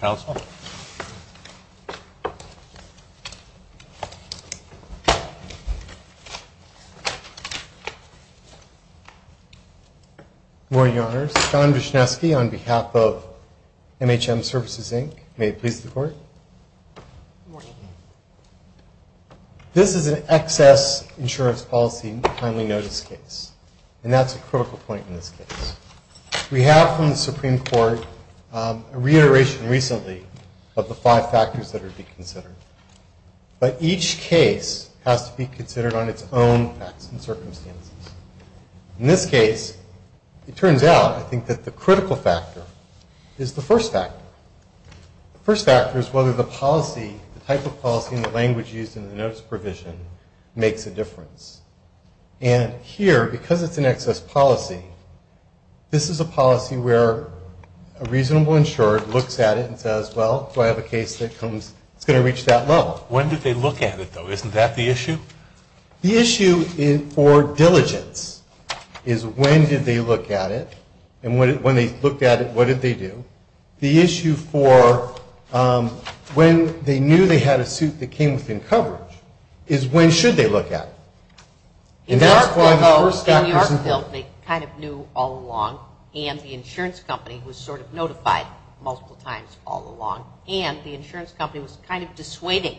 Council. Good morning, Your Honors. John Vishnesky on behalf of MHM Services, Inc. May it please the Court. Good morning. This is an excess insurance policy timely notice case, and that's a critical point in this case. We have from the Supreme Court a reiteration recently of the five factors that are to be considered. But each case has to be considered on its own facts and circumstances. In this case, it turns out, I think, that the critical factor is the first factor. The first factor is whether the policy, the type of policy and the language used in the notice provision, makes a difference. And here, because it's an excess policy, this is a policy where a reasonable insured looks at it and says, well, do I have a case that comes, it's going to reach that level. When did they look at it, though? Isn't that the issue? The issue for diligence is when did they look at it, and when they looked at it, what did they do? The issue for when they knew they had a suit that came within coverage is when should they look at it? And that's why the first factor's important. In Yorkville, they kind of knew all along, and the insurance company was sort of notified multiple times all along, and the insurance company was kind of dissuading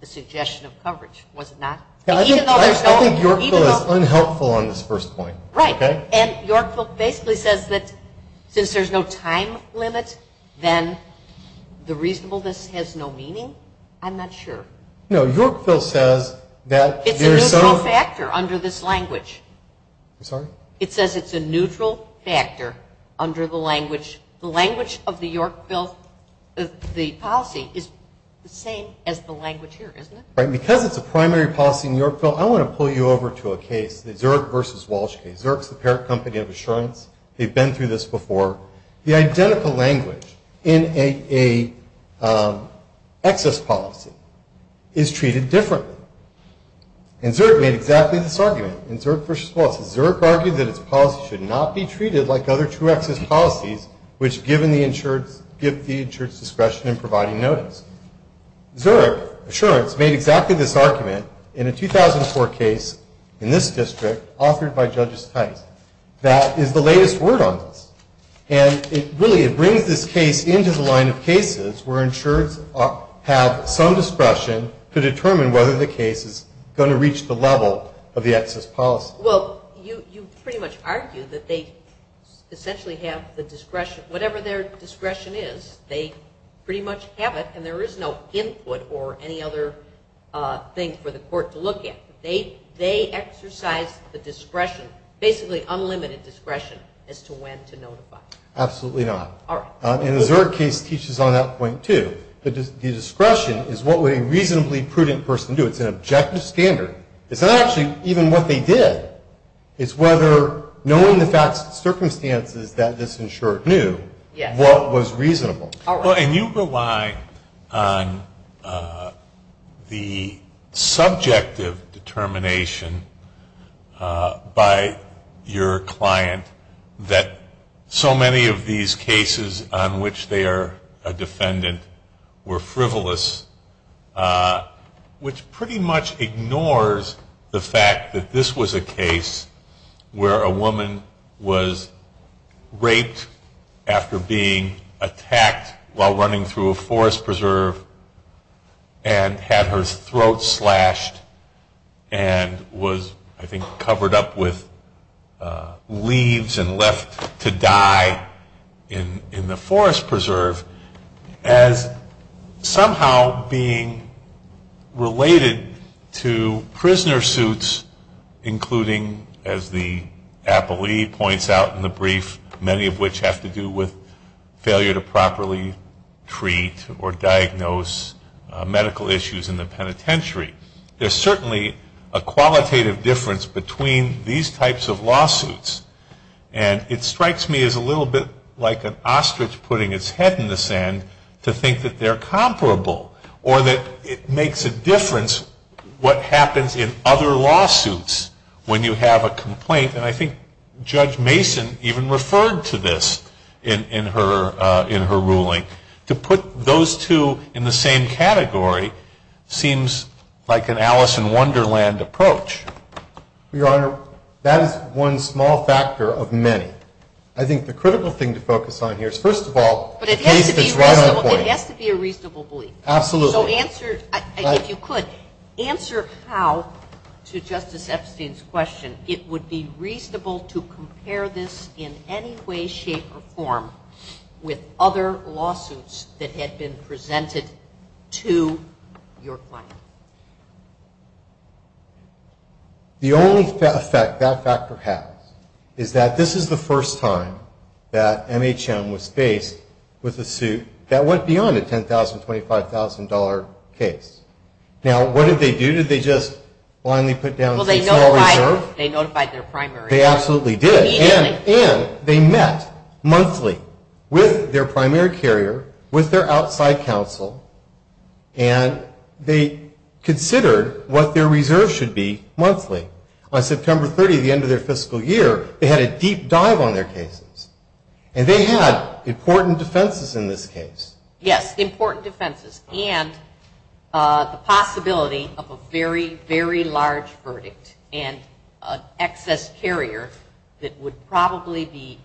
the suggestion of coverage, was it not? I think Yorkville is unhelpful on this first point. Right. And Yorkville basically says that since there's no time limit, then the reasonableness has no meaning? I'm not sure. No, Yorkville says that there's so... It's a neutral factor under this language. I'm sorry? It says it's a neutral factor under the language. The language of the Yorkville, the policy is the same as the language here, isn't it? Right. And because it's a primary policy in Yorkville, I want to pull you over to a case, the Zurich versus Walsh case. Zurich's the parent company of insurance. They've been through this before. The identical language in a excess policy is treated differently. And Zurich made exactly this argument, in Zurich versus Walsh. Zurich argued that its policy should not be treated like other true excess policies, which give the insurance discretion in providing notice. Zurich, Assurance, made exactly this argument in a 2004 case in this district authored by Judges Tice that is the latest word on this. And it really, it brings this case into the line of cases where insurers have some discretion to determine whether the case is going to reach the level of the excess policy. Well, you pretty much argue that they essentially have the discretion, whatever their discretion is, they pretty much have it and there is no input or any other thing for the court to look at. They exercise the discretion, basically unlimited discretion, as to when to notify. Absolutely not. All right. And the Zurich case teaches on that point, too. The discretion is what would a reasonably prudent person do. It's an objective standard. It's not actually even what they did. It's whether knowing the facts and circumstances that this insurer knew, what was reasonable. All right. Well, and you rely on the subjective determination by your client that so many of these cases on which they are a defendant were frivolous, which pretty much ignores the fact that this was a case where a woman was raped after being attacked while running through a forest preserve and had her throat slashed and was, I think, covered up with leaves and left to die in the forest preserve as somehow being related to prisoner suits, including, as the appellee points out in the brief, many of which have to do with failure to properly treat or diagnose medical issues in the penitentiary. There's certainly a qualitative difference between these types of lawsuits and it strikes me as a little bit like an ostrich putting its head in the sand to think that they're comparable or that it makes a difference what happens in other lawsuits when you have a complaint. And I think Judge Mason even referred to this in her ruling. To put those two in the same category seems like an Alice in Wonderland approach. Your Honor, that is one small factor of many. I think the critical thing to focus on here is, first of all, the case that's right on point. But it has to be a reasonable belief. Absolutely. So answer, if you could, answer how, to Justice Epstein's question, it would be reasonable to compare this in any way, shape, or form with other lawsuits that had been presented to your client. The only effect that factor has is that this is the first time that MHM was faced with a suit that went beyond a $10,000, $25,000 case. Now, what did they do? Did they just blindly put down a small reserve? Well, they notified their primary. They absolutely did, and they met monthly with their primary carrier, with their outside counsel, and they considered what their reserve should be monthly. On September 30th, the end of their fiscal year, they had a deep dive on their cases. And they had important defenses in this case. Yes, important defenses, and the possibility of a very, very large verdict and excess carrier that would probably be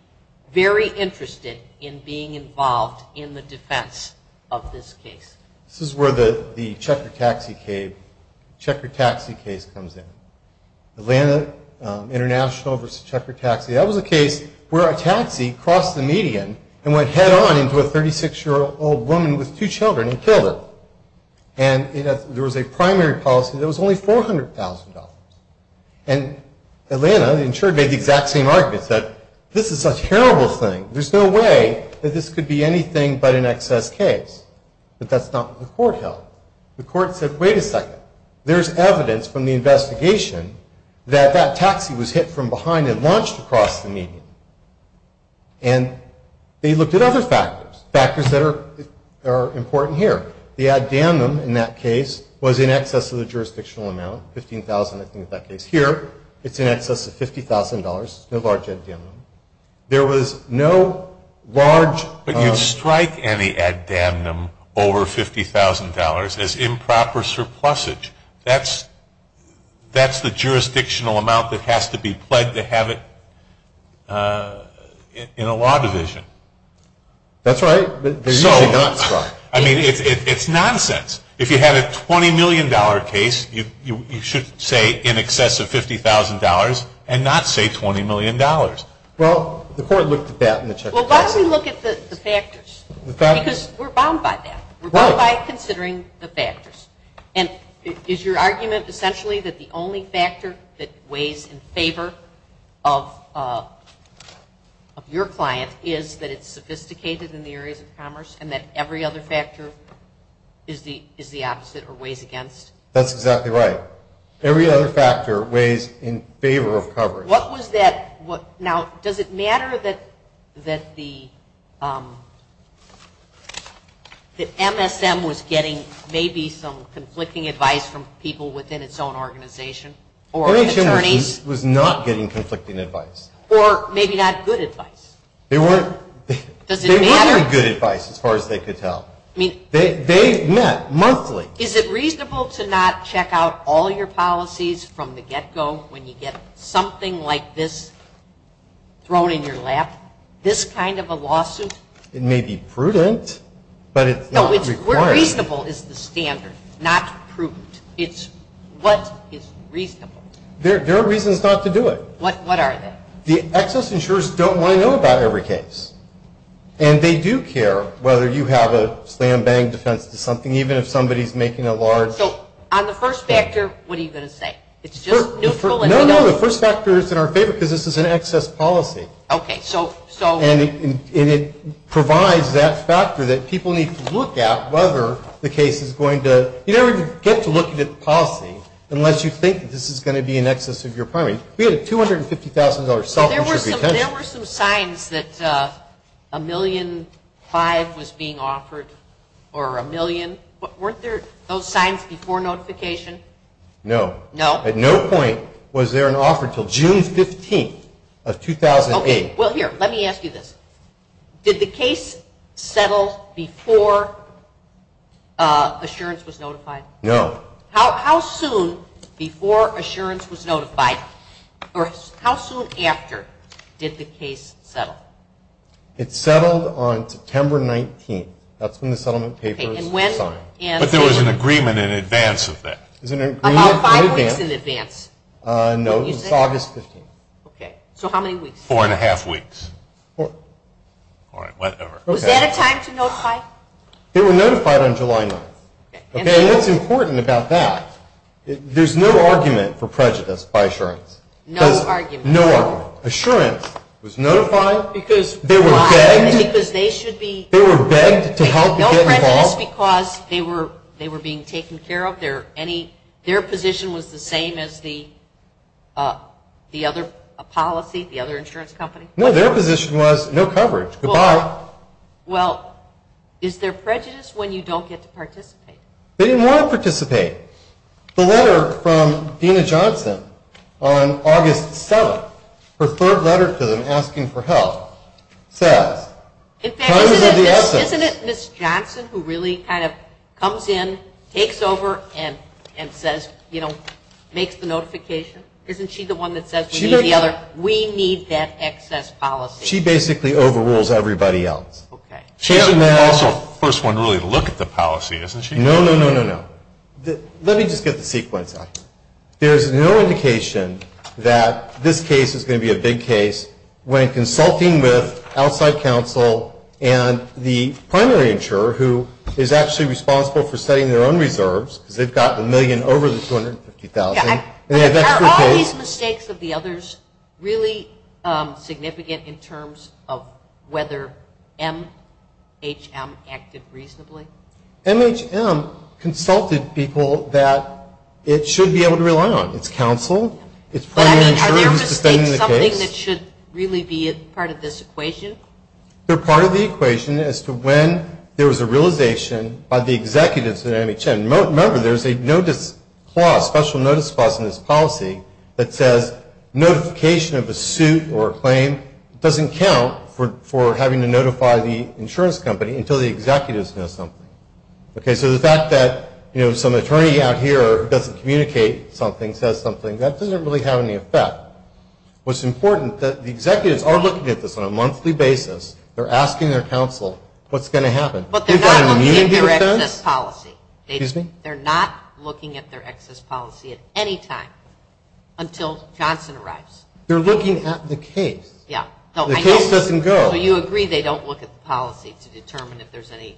very interested in being involved in the defense of this case. This is where the Check Your Taxi case comes in, Atlanta International versus Check Your Taxi. That was a case where a taxi crossed the median and went head-on into a 36-year-old woman with two children and killed her, and there was a primary policy that was only $400,000. And Atlanta, the insurer, made the exact same argument, said, this is a terrible thing. There's no way that this could be anything but an excess case. But that's not what the court held. The court said, wait a second, there's evidence from the investigation that that taxi was hit from behind and launched across the median. And they looked at other factors, factors that are important here. The ad damnum in that case was in excess of the jurisdictional amount, $15,000, I think, in that case here, it's in excess of $50,000, no large ad damnum. There was no large. But you'd strike any ad damnum over $50,000 as improper surplusage. That's the jurisdictional amount that has to be pled to have it in a law division. That's right. So, I mean, it's nonsense. If you had a $20 million case, you should say in excess of $50,000 and not say $20 million. Well, the court looked at that in the check. Well, let's look at the factors, because we're bound by that. We're bound by considering the factors. And is your argument essentially that the only factor that weighs in favor of your client is that it's sophisticated in the areas of commerce and that every other factor is the opposite or weighs against? That's exactly right. Every other factor weighs in favor of coverage. What was that? Now, does it matter that the MSM was getting maybe some conflicting advice from people within its own organization or an attorney? MSM was not getting conflicting advice. Or maybe not good advice. They weren't good advice, as far as they could tell. I mean, they met monthly. Is it reasonable to not check out all your policies from the get-go when you get something like this thrown in your lap, this kind of a lawsuit? It may be prudent, but it's not required. Reasonable is the standard, not prudent. It's what is reasonable. There are reasons not to do it. What are they? The excess insurers don't want to know about every case. And they do care whether you have a slam-bang defense to something, even if somebody's making a large... So, on the first factor, what are you going to say? It's just neutral... No, the first factor is in our favor because this is an excess policy. Okay, so... And it provides that factor that people need to look at whether the case is going to... You never get to look at a policy unless you think this is going to be in excess of your primary. We had a $250,000 salvage of your attention. There were some signs that $1.5 million was being offered, or $1 million. Weren't there those signs before notification? No. No? At no point was there an offer until June 15th of 2008. Okay, well, here, let me ask you this. Did the case settle before assurance was notified? No. How soon before assurance was notified? Or, how soon after did the case settle? It settled on September 19th. That's when the settlement papers were signed. Okay, and when... But there was an agreement in advance of that. There was an agreement in advance. About five weeks in advance. No, it was August 15th. Okay, so how many weeks? Four and a half weeks. Four. All right, whatever. Okay. Was that a time to notify? They were notified on July 9th. Okay, and what's important about that, there's no argument for prejudice by assurance. No argument. No argument. Assurance was notified because they were begged. Why? Because they should be... They were begged to help and get involved. No prejudice because they were being taken care of? Their position was the same as the other policy, the other insurance company? No, their position was no coverage. Goodbye. They didn't want to participate. The letter from Dena Johnson on August 7th, her third letter to them asking for help, says... In fact, isn't it Ms. Johnson who really kind of comes in, takes over, and says, you know, makes the notification? Isn't she the one that says, we need the other, we need that excess policy? She basically overrules everybody else. Okay. She's also the first one to really look at the policy, isn't she? No, no, no, no, no. Let me just get the sequence out. There's no indication that this case is going to be a big case when consulting with outside counsel and the primary insurer who is actually responsible for setting their own reserves, because they've got the million over the $250,000. Are all these mistakes of the others really significant in terms of whether MHM acted reasonably? MHM consulted people that it should be able to rely on. It's counsel, it's primary insurer who's defending the case. Are there mistakes, something that should really be a part of this equation? They're part of the equation as to when there was a realization by the executives at MHM. Remember, there's a notice clause, special notice clause in this policy that says notification of a suit or a claim doesn't count for having to notify the insurance company until the executives know something. Okay, so the fact that, you know, some attorney out here doesn't communicate something, says something, that doesn't really have any effect. What's important, the executives are looking at this on a monthly basis. They're asking their counsel what's going to happen. But they're not looking at their excess policy. Excuse me? They're not looking at their excess policy at any time until Johnson arrives. They're looking at the case. Yeah. The case doesn't go. So you agree they don't look at the policy to determine if there's any.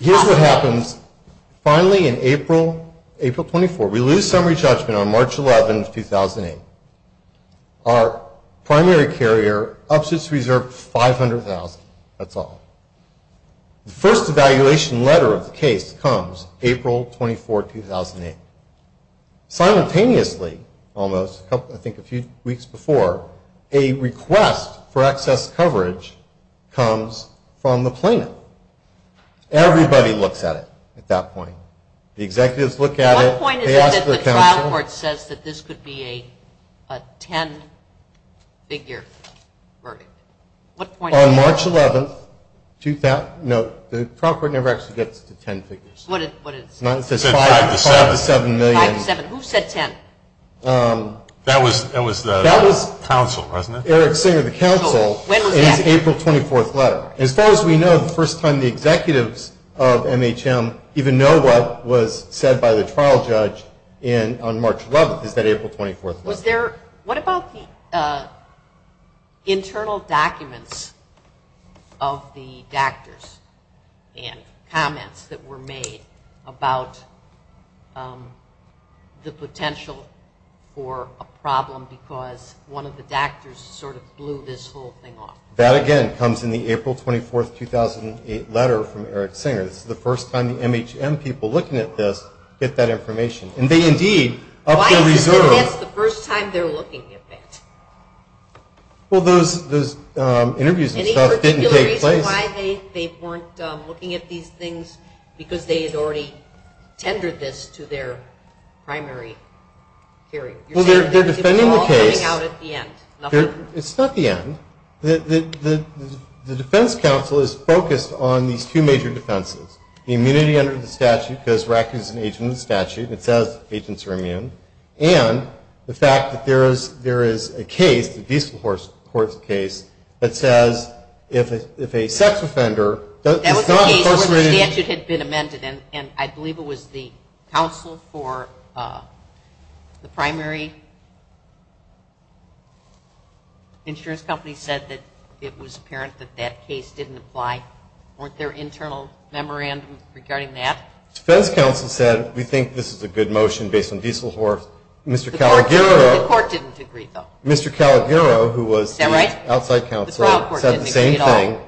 Here's what happens. Finally, in April, April 24, we lose summary judgment on March 11, 2008. Our primary carrier ups its reserve 500,000, that's all. The first evaluation letter of the case comes April 24, 2008. Simultaneously, almost, I think a few weeks before, a request for excess coverage comes from the plaintiff. Everybody looks at it at that point. The executives look at it. One point is that the trial court says that this could be a 10-figure verdict. On March 11, 2000, no, the trial court never actually gets to 10 figures. What did it say? It says 5 to 7 million. 5 to 7, who said 10? That was the counsel, wasn't it? Eric Singer, the counsel. It's April 24th letter. As far as we know, the first time the executives of MHM even know what was said by the trial judge on March 11th, is that April 24th letter. Was there, what about the internal documents of the doctors and comments that were made about the potential for a problem because one of the doctors sort of blew this whole thing off? That, again, comes in the April 24th, 2008 letter from Eric Singer. This is the first time the MHM people looking at this get that information. And they, indeed, up their reserves. Why is this the first time they're looking at that? Well, those interviews and stuff didn't take place. Any particular reason why they weren't looking at these things? Because they had already tendered this to their primary hearing. You're saying they're all coming out at the end. It's not the end. The defense counsel is focused on these two major defenses. The immunity under the statute because RAC is an agent of the statute. It says agents are immune. And the fact that there is a case, the peaceful court's case, that says if a sex offender. That was the case where the statute had been amended and I believe it was the counsel for the primary insurance company said that it was apparent that that case didn't apply. Weren't there internal memorandums regarding that? Defense counsel said we think this is a good motion based on diesel horse. Mr. Calagiro. The court didn't agree, though. Mr. Calagiro, who was the outside counsel, said the same thing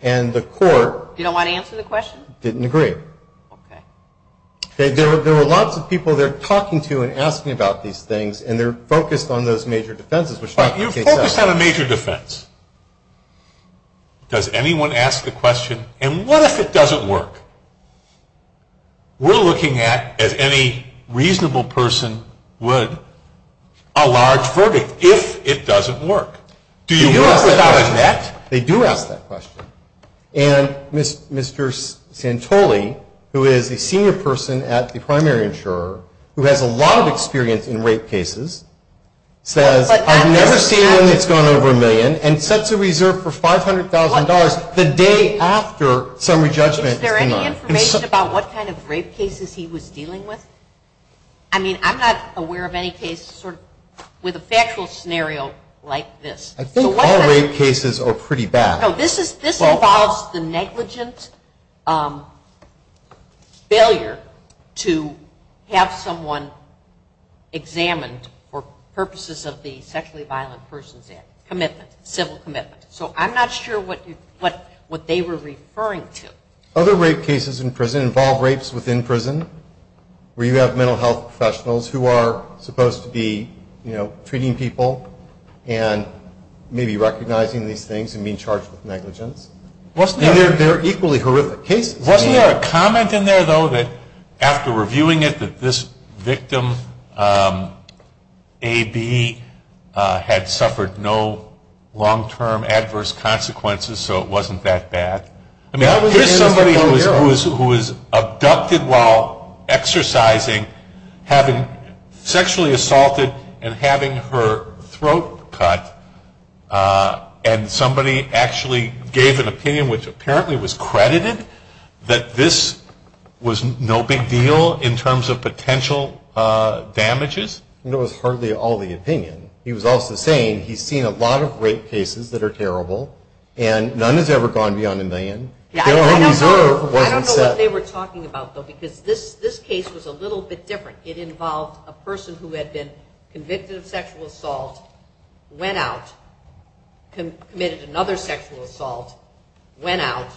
and the court. You don't want to answer the question? Didn't agree. Okay. There are lots of people they're talking to and asking about these things and they're focused on those major defenses. But you're focused on a major defense. Does anyone ask the question and what if it doesn't work? We're looking at, as any reasonable person would, a large verdict if it doesn't work. Do you work without a net? They do ask that question. And Mr. Santoli, who is a senior person at the primary insurer, who has a lot of experience in rape cases, says I've never seen one that's gone over a million and sets a reserve for $500,000 the day after summary judgment is denied. Is there any information about what kind of rape cases he was dealing with? I mean, I'm not aware of any case sort of with a factual scenario like this. I think all rape cases are pretty bad. No, this involves the negligent failure to have someone examined for purposes of the sexually violent persons act, commitment, civil commitment. So I'm not sure what they were referring to. Other rape cases in prison involve rapes within prison where you have mental health professionals who are supposed to be, you know, treating people and maybe recognizing these things and being charged with negligence. And they're equally horrific cases. Wasn't there a comment in there, though, that after reviewing it that this victim AB had suffered no long-term adverse consequences so it wasn't that bad? I mean, here's somebody who was abducted while exercising, having sexually assaulted and having her throat cut, and somebody actually gave an opinion which apparently was credited that this was no big deal in terms of potential damages. It was hardly all the opinion. He was also saying he's seen a lot of rape cases that are terrible and none has ever gone beyond a million. Their reserve wasn't set. I don't know what they were talking about, though, because this case was a little bit different. It involved a person who had been convicted of sexual assault, went out, committed another sexual assault, went out.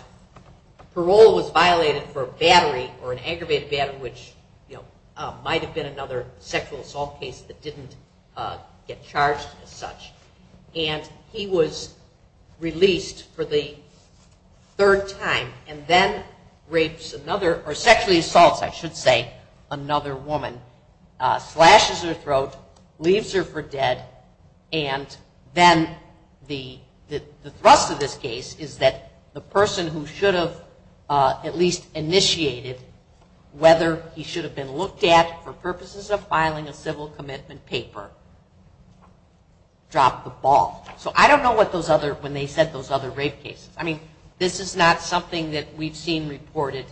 Parole was violated for battery or an aggravated battery, which, you know, might have been another sexual assault case that didn't get charged as such. And he was released for the third time and then rapes another, or sexually assaults, I should say, another woman, slashes her throat, leaves her for dead, and then the thrust of this case is that the person who should have at least initiated whether he should have been looked at for purposes of filing a civil commitment paper dropped the ball. So I don't know what those other, when they said those other rape cases. I mean, this is not something that we've seen reported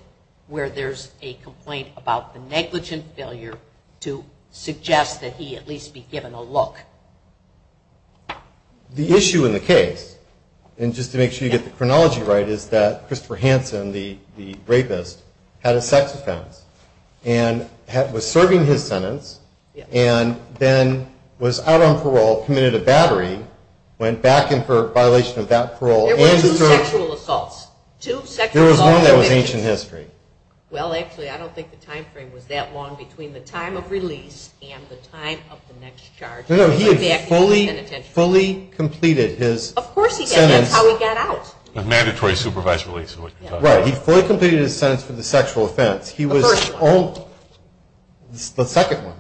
where there's a complaint about the negligent failure to suggest that he at least be given a look. The issue in the case, and just to make sure you get the chronology right, is that Christopher Hansen, the rapist, had a sex offense and was serving his sentence and then was out on parole, committed a battery, went back and for violation of that parole, and there was one that was ancient history. Well, actually, I don't think the time frame was that long between the time of release and the time of the next charge. No, no, he had fully, fully completed his sentence. Of course he did. That's how he got out. A mandatory supervised release is what you're talking about. Right. He fully completed his sentence for the sexual offense. He was the second one.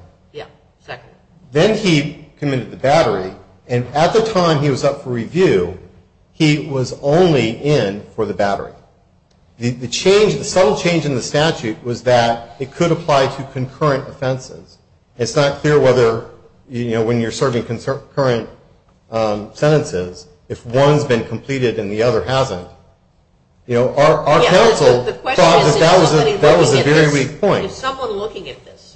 Then he committed the battery, and at the time he was up for review, he was only in for the battery. The change, the subtle change in the statute was that it could apply to concurrent offenses. It's not clear whether, you know, when you're serving concurrent sentences, if one's been completed and the other hasn't. You know, our counsel thought that that was a very weak point. If someone looking at this,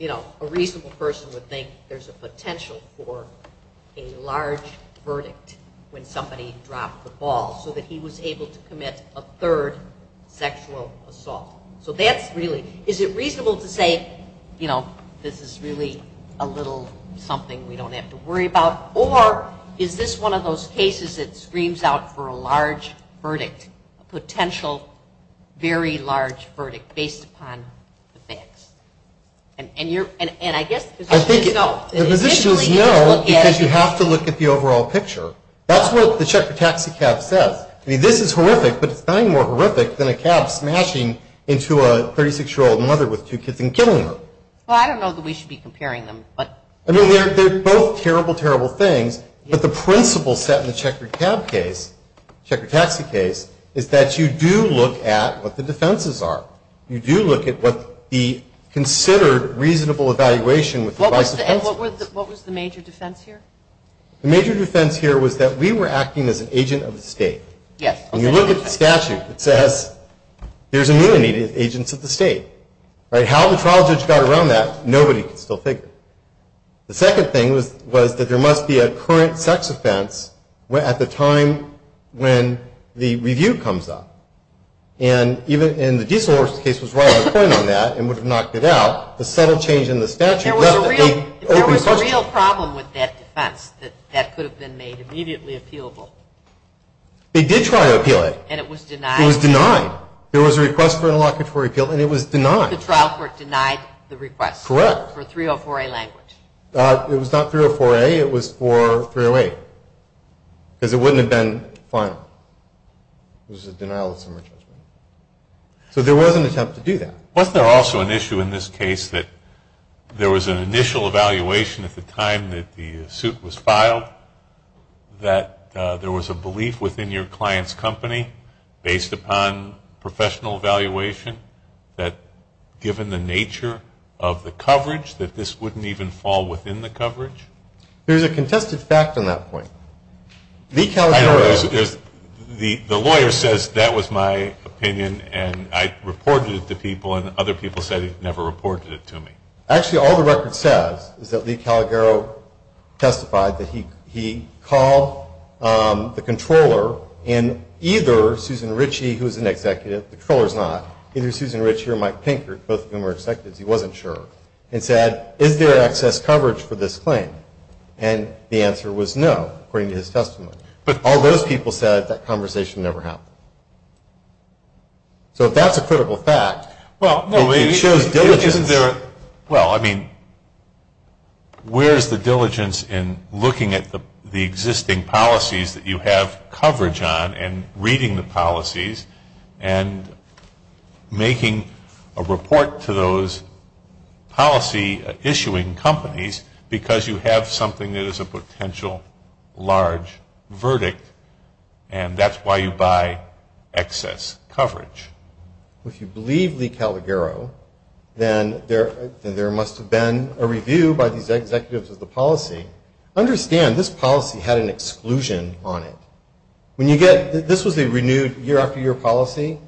you know, a reasonable person would think there's a potential for a large verdict when somebody dropped the ball so that he was able to commit a third sexual assault. So that's really, is it reasonable to say, you know, this is really a little something we don't have to worry about, or is this one of those cases that screams out for a large verdict, a potential very large verdict based upon the facts? And I guess, as physicians know. Physicians know because you have to look at the overall picture. That's what the check for taxi cab says. I mean, this is horrific, but it's nothing more horrific than a cab smashing into a 36-year-old mother with two kids and killing her. Well, I don't know that we should be comparing them, but. I mean, they're both terrible, terrible things, but the principle set in the check for cab case, check for taxi case, is that you do look at what the defenses are. You do look at what the considered reasonable evaluation with the vice principal. And what was the major defense here? The major defense here was that we were acting as an agent of the state. Yes. When you look at the statute, it says there's a need of agents of the state, right? How the trial judge got around that, nobody can still figure. The second thing was that there must be a current sex offense at the time when the review comes up. And even in the Diesel case was right on the point on that and would have knocked it out. The subtle change in the statute. There was a real problem with that defense that could have been made immediately appealable. They did try to appeal it. And it was denied. It was denied. There was a request for an allocatory appeal, and it was denied. The trial court denied the request. Correct. For 304A language. It was not 304A, it was for 308, because it wouldn't have been final. It was a denial of summary judgment. So there was an attempt to do that. Was there also an issue in this case that there was an initial evaluation at the time that the suit was filed, that there was a belief within your client's company, based upon professional evaluation, that given the nature of the coverage, that this wouldn't even fall within the coverage? There's a contested fact on that point. The California lawyer says that was my opinion, and I reported it to people. And other people said he never reported it to me. Actually, all the record says is that Lee Calagaro testified that he called the controller, and either Susan Ritchie, who's an executive, the controller's not, either Susan Ritchie or Mike Pinkert, both of whom are executives, he wasn't sure. And said, is there excess coverage for this claim? And the answer was no, according to his testimony. But all those people said that conversation never happened. So if that's a critical fact, well, I mean, where's the diligence in looking at the existing policies that you have coverage on, and reading the policies, and making a report to those policy-issuing companies, because you have something that is a potential large verdict, and that's why you buy excess coverage. If you believe Lee Calagaro, then there must have been a review by these executives of the policy. Understand, this policy had an exclusion on it. When you get, this was a renewed year-after-year policy,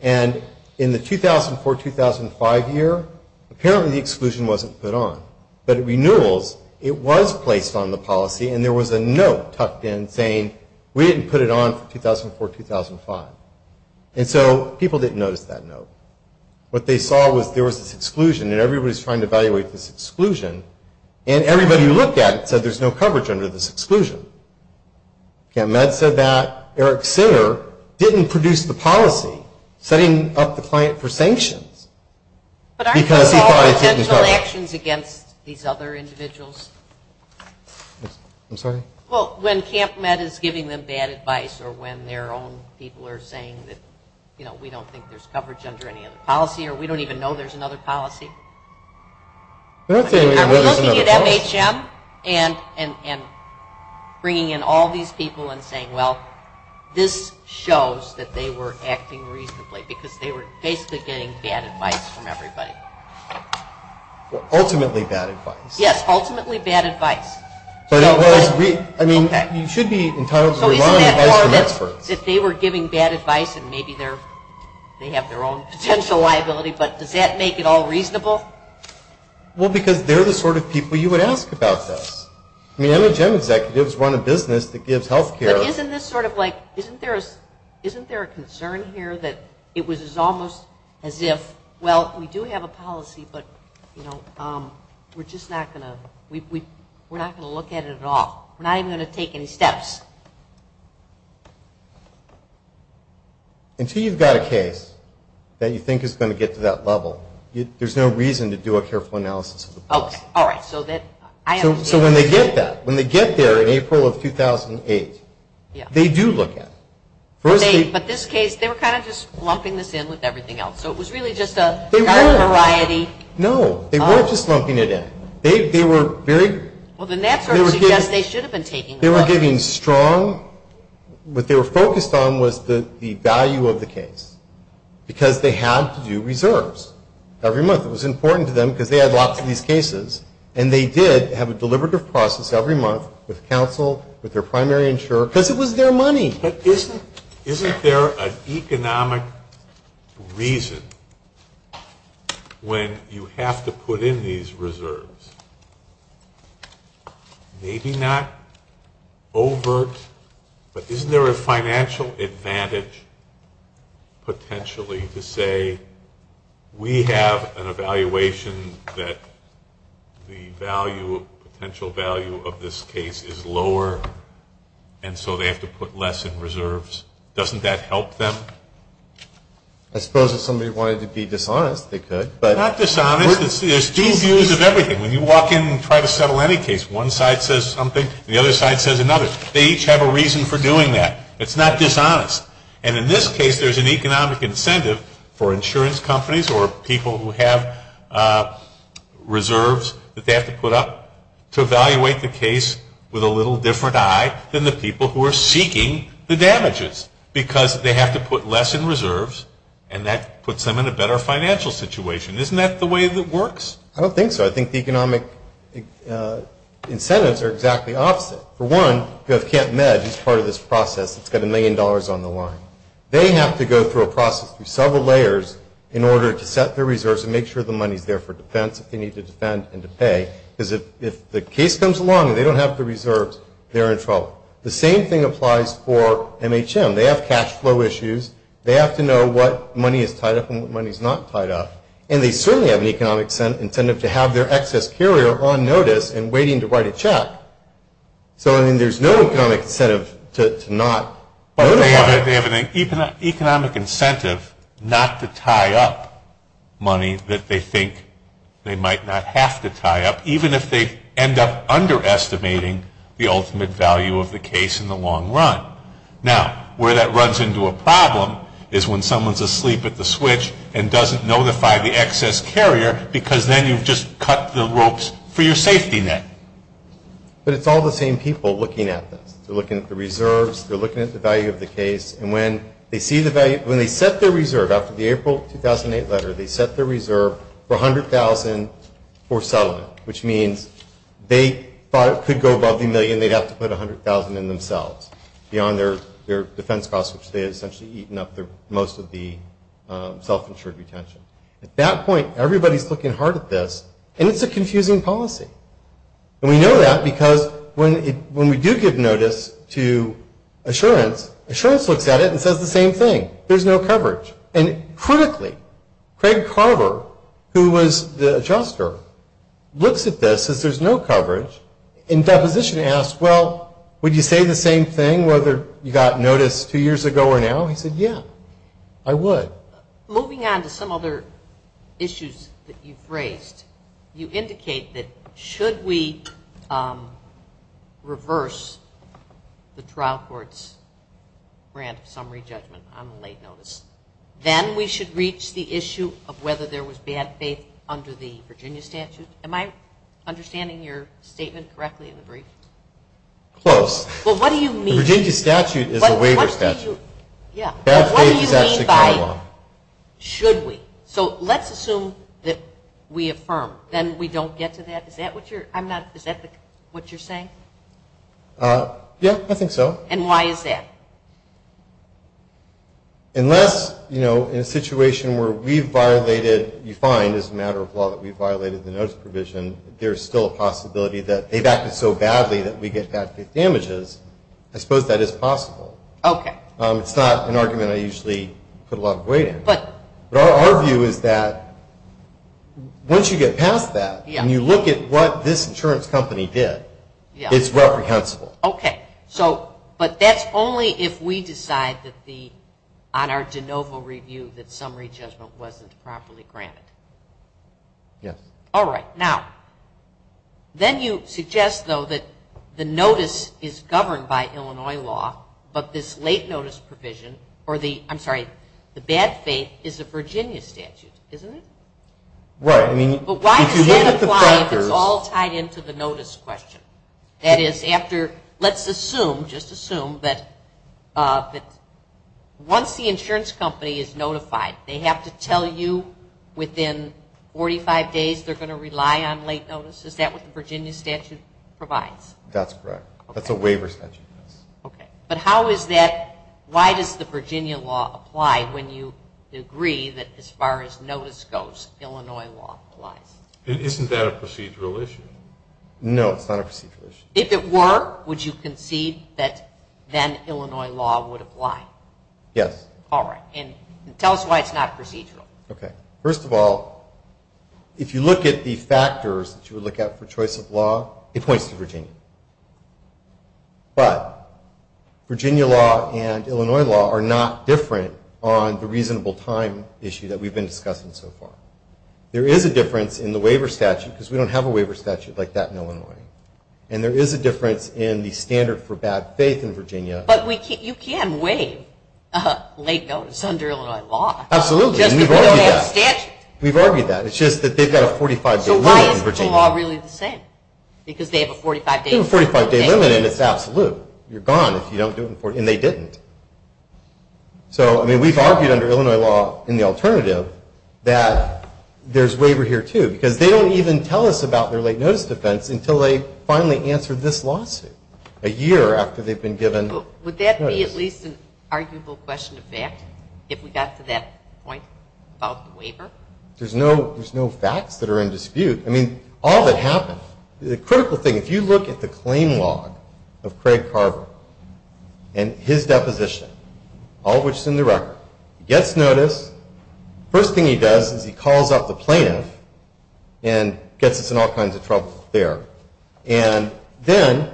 and in the 2004, 2005 year, apparently the exclusion wasn't put on. But at renewals, it was placed on the policy, and there was a note tucked in saying, we didn't put it on for 2004, 2005. And so people didn't notice that note. What they saw was there was this exclusion, and everybody was trying to evaluate this exclusion, and everybody who looked at it said there's no coverage under this exclusion. Okay, and Med said that Eric Sinner didn't produce the policy setting up the client for sanctions, because he thought it didn't cover it. Do you have any questions against these other individuals? I'm sorry? Well, when Camp Med is giving them bad advice, or when their own people are saying that, you know, we don't think there's coverage under any other policy, or we don't even know there's another policy. I'm looking at MHM, and bringing in all these people and saying, well, this shows that they were acting reasonably, because they were basically getting bad advice from everybody. Ultimately bad advice. Yes, ultimately bad advice. But it was, I mean, you should be entirely relying on advice from experts. If they were giving bad advice, and maybe they have their own potential liability, but does that make it all reasonable? Well, because they're the sort of people you would ask about this. I mean, MHM executives run a business that gives health care. But isn't this sort of like, isn't there a concern here that it was almost as if, well, we do have a policy, but, you know, we're just not going to, we're not going to look at it at all. We're not even going to take any steps. Until you've got a case that you think is going to get to that level, there's no reason to do a careful analysis of the policy. All right, so that, I understand. So when they get that, when they get there in April of 2008, they do look at it. But this case, they were kind of just lumping this in with everything else. So it was really just a kind of variety. No, they weren't just lumping it in. They were very, they were giving strong, what they were focused on was the value of the case, because they had to do reserves every month. It was important to them because they had lots of these cases. And they did have a deliberative process every month with counsel, with their primary insurer, because it was their money. But isn't, isn't there an economic reason when you have to put in these reserves? Maybe not overt, but isn't there a financial advantage potentially to say, we have an evaluation that the value, potential value of this case is lower, and so they have to put less in reserves. Doesn't that help them? I suppose if somebody wanted to be dishonest, they could, but. Not dishonest, there's two views of everything. When you walk in and try to settle any case, one side says something, and the other side says another. They each have a reason for doing that. It's not dishonest. And in this case, there's an economic incentive for insurance companies or people who have reserves that they have to put up to evaluate the case with a little different eye than the people who are seeking the damages. Because they have to put less in reserves, and that puts them in a better financial situation. Isn't that the way that works? I don't think so. I think the economic incentives are exactly opposite. For one, you have Camp Med, who's part of this process. It's got a million dollars on the line. They have to go through a process through several layers in order to set their reserves and make sure the money's there for defense if they need to defend and to pay. Because if the case comes along and they don't have the reserves, they're in trouble. The same thing applies for MHM. They have cash flow issues. They have to know what money is tied up and what money's not tied up. And they certainly have an economic incentive to have their excess carrier on notice and waiting to write a check. So, I mean, there's no economic incentive to not notify. They have an economic incentive not to tie up money that they think they might not have to tie up, even if they end up underestimating the ultimate value of the case in the long run. Now, where that runs into a problem is when someone's asleep at the switch and doesn't notify the excess carrier because then you've just cut the ropes for your safety net. But it's all the same people looking at this. They're looking at the reserves. They're looking at the value of the case. And when they see the value, when they set their reserve, after the April 2008 letter, they set their reserve for $100,000 for settlement, which means they thought it could go above a million, they'd have to put $100,000 in themselves beyond their defense costs, which they had essentially eaten up most of the self-insured retention. At that point, everybody's looking hard at this, and it's a confusing policy. And we know that because when we do give notice to Assurance, Assurance looks at it and says the same thing, there's no coverage. And critically, Craig Carver, who was the adjuster, looks at this as there's no coverage and Deposition asks, well, would you say the same thing whether you got notice two years ago or now, and he said, yeah, I would. Moving on to some other issues that you've raised, you indicate that should we reverse the trial court's grant summary judgment on late notice, then we should reach the issue of whether there was bad faith under the Virginia statute. Am I understanding your statement correctly in the brief? Close. Well, what do you mean? The Virginia statute is a waiver statute. Yeah. But what do you mean by should we? So let's assume that we affirm, then we don't get to that. Is that what you're, I'm not, is that what you're saying? Yeah, I think so. And why is that? Unless, you know, in a situation where we've violated, you find as a matter of law that we've violated the notice provision, there's still a possibility that they've acted so badly that we get bad faith damages, I suppose that is possible. Okay. It's not an argument I usually put a lot of weight in, but our view is that once you get past that and you look at what this insurance company did, it's reprehensible. Okay. So, but that's only if we decide that the, on our de novo review, that summary judgment wasn't properly granted. Yes. All right. Now, then you suggest, though, that the notice is governed by Illinois law, but this late notice provision, or the, I'm sorry, the bad faith is a Virginia statute, isn't it? Right. I mean, if you look at the factors. But why does that apply if it's all tied into the notice question? That is, after, let's assume, just assume that once the insurance company is notified, they have to tell you within 45 days they're going to rely on late notice? Is that what the Virginia statute provides? That's correct. Okay. That's a waiver statute. Okay. But how is that, why does the Virginia law apply when you agree that as far as notice goes, Illinois law applies? Isn't that a procedural issue? No, it's not a procedural issue. If it were, would you concede that then Illinois law would apply? Yes. All right. And tell us why it's not procedural. Okay. First of all, if you look at the factors that you would look at for choice of law, it points to Virginia. But Virginia law and Illinois law are not different on the reasonable time issue that we've been discussing so far. There is a difference in the waiver statute, because we don't have a waiver statute like that in Illinois. And there is a difference in the standard for bad faith in Virginia. But you can waive late notice under Illinois law. Absolutely. And we've argued that. Just because they have a statute. We've argued that. It's just that they've got a 45-day limit in Virginia. But they're all really the same, because they have a 45-day limit. They have a 45-day limit, and it's absolute. You're gone if you don't do it in 40. And they didn't. So, I mean, we've argued under Illinois law in the alternative that there's waiver here, too, because they don't even tell us about their late notice defense until they finally answer this lawsuit a year after they've been given notice. Would that be at least an arguable question of fact, if we got to that point about the waiver? There's no facts that are in dispute. I mean, all that happened. The critical thing, if you look at the claim log of Craig Carver and his deposition, all of which is in the record, he gets notice. First thing he does is he calls up the plaintiff and gets us in all kinds of trouble there. And then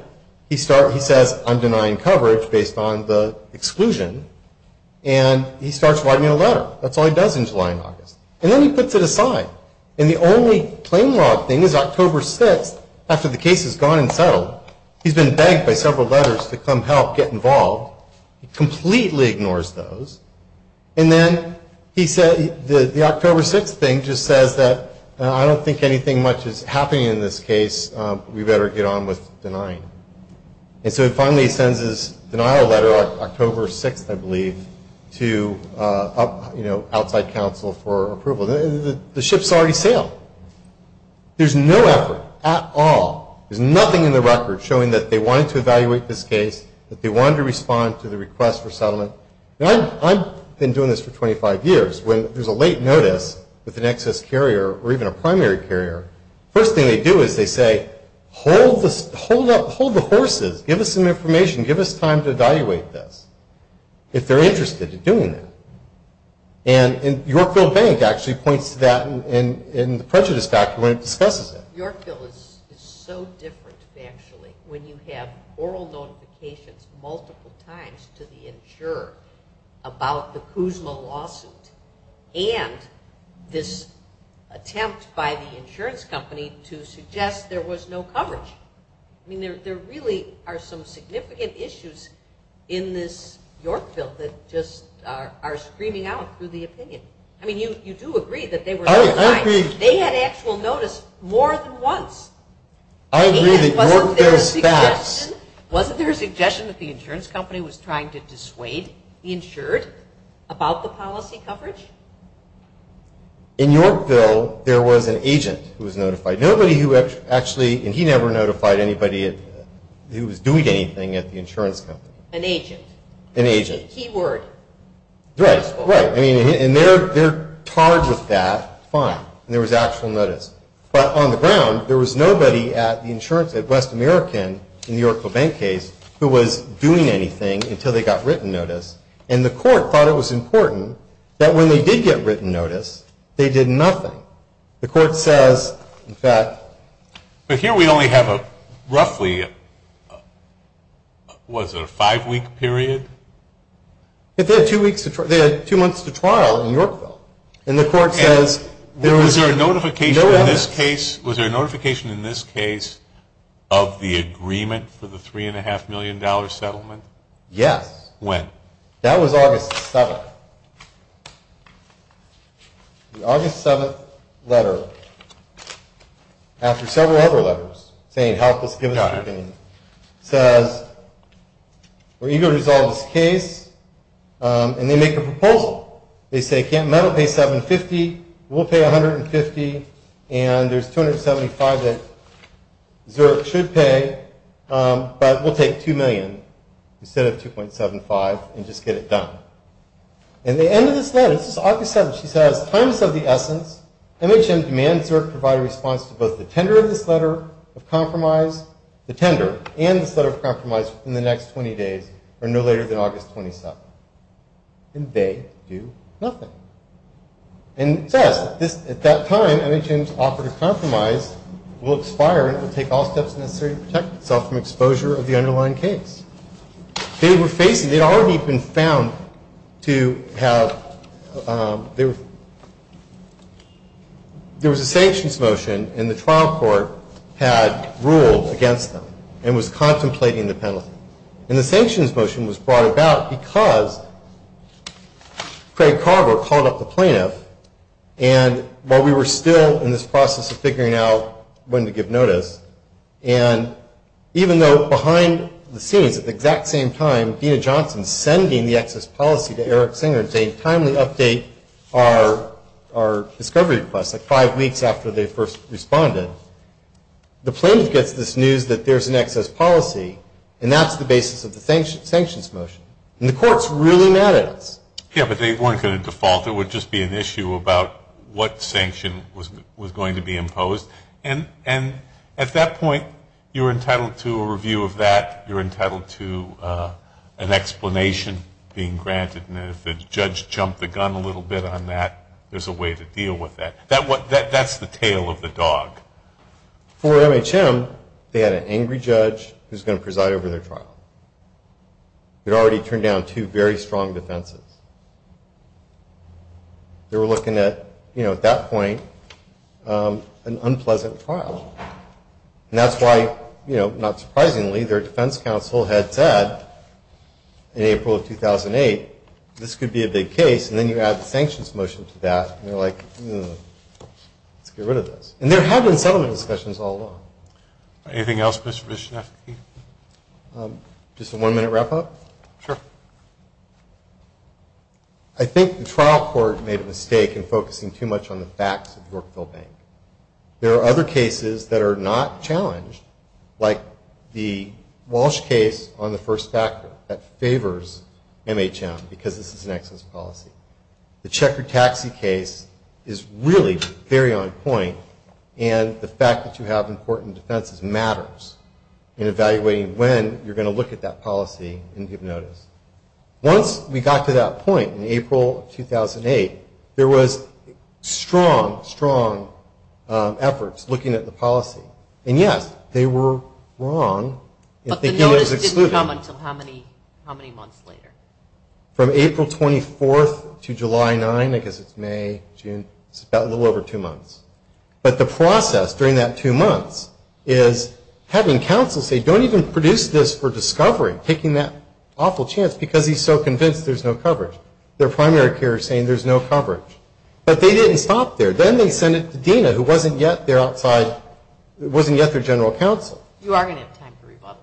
he starts, he says, I'm denying coverage based on the exclusion. And he starts writing a letter. That's all he does in July and August. And then he puts it aside. And the only claim log thing is October 6th, after the case has gone and settled, he's been begged by several letters to come help, get involved. He completely ignores those. And then he said, the October 6th thing just says that, I don't think anything much is happening in this case, we better get on with denying. And so he finally sends his denial letter October 6th, I believe, to, you know, outside counsel for approval. The ship's already sailed. There's no effort at all. There's nothing in the record showing that they wanted to evaluate this case, that they wanted to respond to the request for settlement. I've been doing this for 25 years. When there's a late notice with an excess carrier or even a primary carrier, first thing they do is they say, hold the horses, give us some information, give us time to evaluate this, if they're interested in doing that. And Yorkville Bank actually points to that in the prejudice factor when it discusses it. Yorkville is so different, factually, when you have oral notifications multiple times to the insurer about the Kuzma lawsuit and this attempt by the insurance company to suggest there was no coverage. I mean, there really are some significant issues in this Yorkville that just are screaming out through the opinion. I mean, you do agree that they were not trying. They had actual notice more than once. Wasn't there a suggestion that the insurance company was trying to dissuade the insured about the policy coverage? In Yorkville, there was an agent who was notified. Nobody who actually, and he never notified anybody who was doing anything at the insurance company. An agent. An agent. Key word. Right. Right. I mean, and they're tarred with that. Fine. And there was actual notice. But on the ground, there was nobody at the insurance at West American in the Yorkville Bank case who was doing anything until they got written notice. And the court thought it was important that when they did get written notice, they did nothing. The court says that. But here we only have a roughly, was it a five-week period? They had two weeks to, they had two months to trial in Yorkville, and the court says there was no evidence. Was there a notification in this case, was there a notification in this case of the agreement for the three and a half million dollar settlement? Yes. When? That was August 7th. The August 7th letter, after several other letters saying help us, give us your opinion, says we're eager to resolve this case, and they make a proposal. They say can't metal pay 750, we'll pay 150, and there's 275 that Zerk should pay, but we'll take 2 million instead of 2.75 and just get it done. And the end of this letter, this is August 7th, she says, times of the essence, MHM demands Zerk provide a response to both the tender of this letter of compromise, the tender, and this letter of compromise in the next 20 days or no later than August 27th. And they do nothing. And it says at that time MHM's offer to compromise will expire and it will take all steps necessary to protect itself from exposure of the underlying case. They were facing, they'd already been found to have, they were, there was a sanctions motion and the trial court had ruled against them and was contemplating the penalty. And the sanctions motion was brought about because Craig Carver called up the plaintiff and while we were still in this process of figuring out when to give notice, and even though behind the scenes at the exact same time, Dena Johnson sending the excess policy to Eric Singer and saying timely update our discovery request, like five weeks after they first responded, the plaintiff gets this news that there's an excess policy and that's the basis of the sanctions motion and the court's really mad at us. Yeah, but they weren't going to default. It would just be an issue about what sanction was going to be imposed. And at that point you're entitled to a review of that. You're entitled to an explanation being granted. And if the judge jumped the gun a little bit on that, there's a way to deal with that. That's the tail of the dog. For MHM, they had an angry judge who's going to preside over their trial. They'd already turned down two very strong defenses. They were looking at, you know, at that point, an unpleasant trial. And that's why, you know, not surprisingly, their defense counsel had said in April of 2008 this could be a big case and then you add the sanctions motion to that and they're like, let's get rid of this. And there have been settlement discussions all along. Anything else, Mr. Vishnevsky? Just a one minute wrap up? Sure. I think the trial court made a mistake in focusing too much on the facts of Yorkville Bank. There are other cases that are not challenged, like the Walsh case on the first factor that favors MHM because this is an excess policy. The Check Your Taxi case is really very on point. And the fact that you have important defenses matters in evaluating when you're going to look at that policy and give notice. Once we got to that point in April of 2008, there was strong, strong efforts looking at the policy, and yes, they were wrong in thinking it was excluded. How many months later? From April 24th to July 9th, I guess it's May, June, it's a little over two months. But the process during that two months is having counsel say, don't even produce this for discovery, taking that awful chance because he's so convinced there's no coverage. Their primary care is saying there's no coverage. But they didn't stop there. Then they sent it to Dena, who wasn't yet their outside, wasn't yet their general counsel. You are going to have time to rebuttal.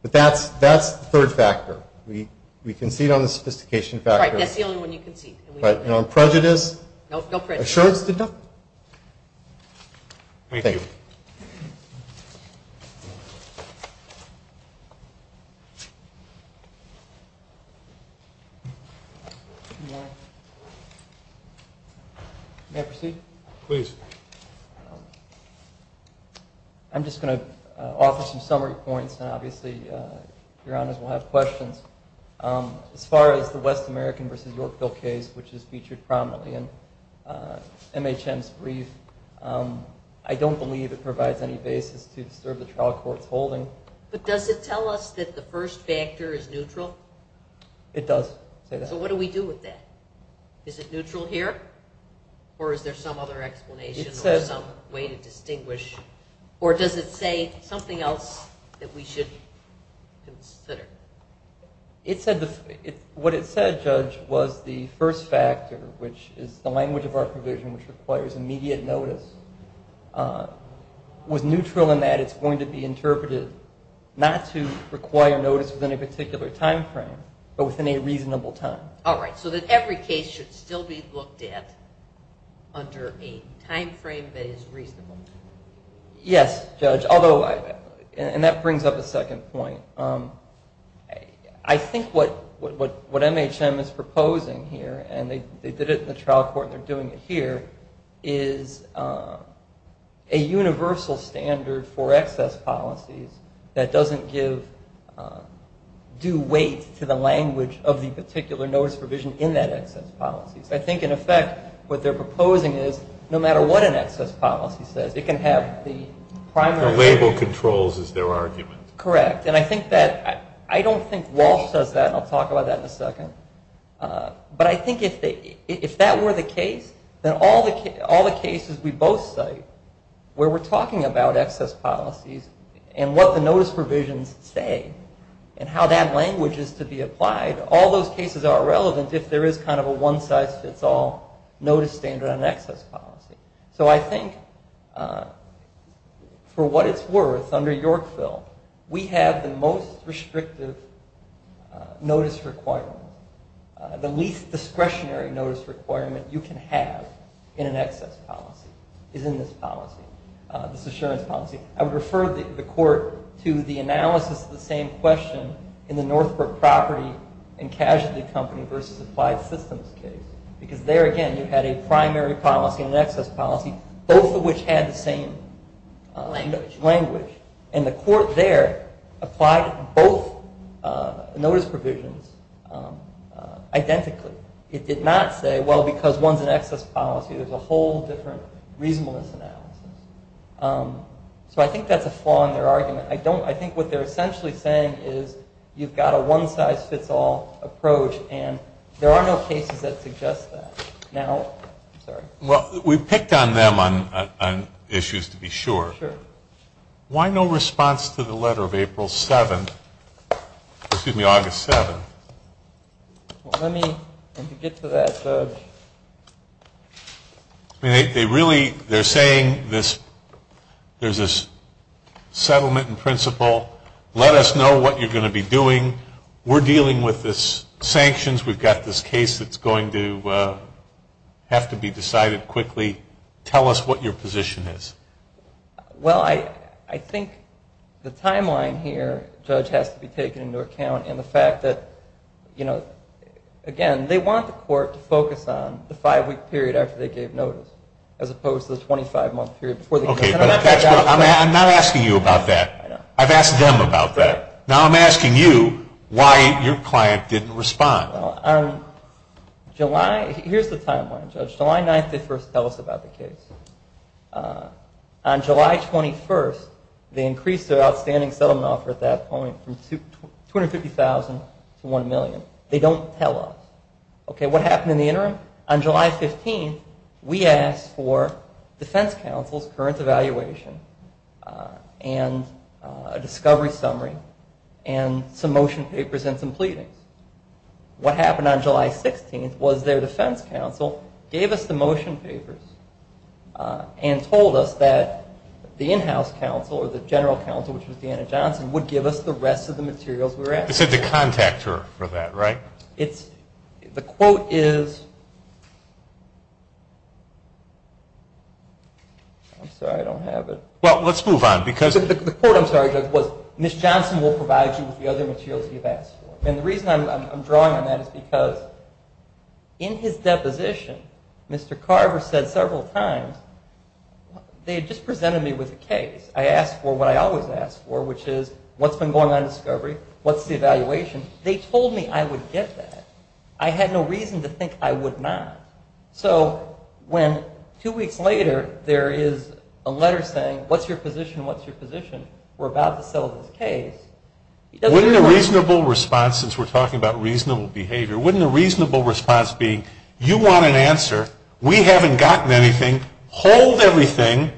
But that's the third factor. We concede on the sophistication factor. Right. That's the only one you concede. Right. And on prejudice. No prejudice. Assurance. Thank you. May I proceed? Please. I'm just going to offer some summary points, and obviously your honors will have questions. As far as the West American versus Yorkville case, which is featured prominently in MHM's brief, I don't believe it provides any basis to disturb the trial court's holding. But does it tell us that the first factor is neutral? It does say that. So what do we do with that? Is it neutral here? Or is there some other explanation or some way to distinguish? Or does it say something else that we should consider? It said, what it said, Judge, was the first factor, which is the language of our provision, which requires immediate notice, was neutral in that it's going to be interpreted not to require notice within a particular time frame, but within a reasonable time. All right. So that every case should still be looked at under a time frame that is reasonable. Yes, Judge. Although, and that brings up a second point. I think what MHM is proposing here, and they did it in the trial court, and they're doing it here, is a universal standard for excess policies that doesn't give due weight to the language of the particular notice provision in that excess policy. I think, in effect, what they're proposing is, no matter what an excess policy says, it can have the primary label controls as their argument. Correct. And I think that, I don't think Walsh does that, and I'll talk about that in a second. But I think if that were the case, then all the cases we both cite where we're talking about excess policies and what the notice provisions say and how that language is to be applied, all those cases are irrelevant if there is kind of a one-size-fits-all notice standard on an excess policy. So I think, for what it's worth, under Yorkville, we have the most restrictive notice requirement. The least discretionary notice requirement you can have in an excess policy is in this policy, this assurance policy. I would refer the court to the analysis of the same question in the Northbrook Property and Casualty Company versus Applied Systems case, because there, again, you had a primary policy and an excess policy, both of which had the same language. And the court there applied both notice provisions identically. It did not say, well, because one's an excess policy, there's a whole different reasonableness analysis. So I think that's a flaw in their argument. I don't, I think what they're essentially saying is you've got a one-size-fits-all approach and there are no cases that suggest that. Now, I'm sorry. Well, we've picked on them on issues, to be sure. Sure. Why no response to the letter of April 7th, excuse me, August 7th? Well, let me, and to get to that, I mean, they really, they're saying this, there's this settlement in principle. Let us know what you're going to be doing. We're dealing with this sanctions. We've got this case that's going to have to be decided quickly. Tell us what your position is. Well, I think the timeline here, Judge, has to be taken into account in the fact that, you know, again, they want the court to focus on the five-week period after they gave notice, as opposed to the 25-month period before they gave notice. Okay, but I'm not asking you about that. I know. I've asked them about that. Now I'm asking you why your client didn't respond. Well, on July, here's the timeline, Judge. July 9th, they first tell us about the case. On July 21st, they increased their outstanding settlement offer at that point from $250,000 to $1 million. They don't tell us. Okay, what happened in the interim? On July 15th, we asked for defense counsel's current evaluation and a discovery summary and some motion papers and some pleadings. What happened on July 16th was their defense counsel gave us the motion papers and told us that the in-house counsel or the general counsel, which was Deanna Johnson, would give us the rest of the materials we were asking for. They said to contact her for that, right? It's, the quote is, I'm sorry, I don't have it. Well, let's move on because. The quote, I'm sorry, Judge, was Ms. Johnson will provide you with the other materials you've asked for. And the reason I'm drawing on that is because in his deposition, Mr. Carver said several times, they had just presented me with a case. I asked for what I always ask for, which is what's been going on in discovery? What's the evaluation? They told me I would get that. I had no reason to think I would not. So when two weeks later, there is a letter saying, what's your position? What's your position? We're about to settle this case. He doesn't know. Wouldn't a reasonable response, since we're talking about reasonable behavior, wouldn't a reasonable response be, you want an answer. We haven't gotten anything. Hold everything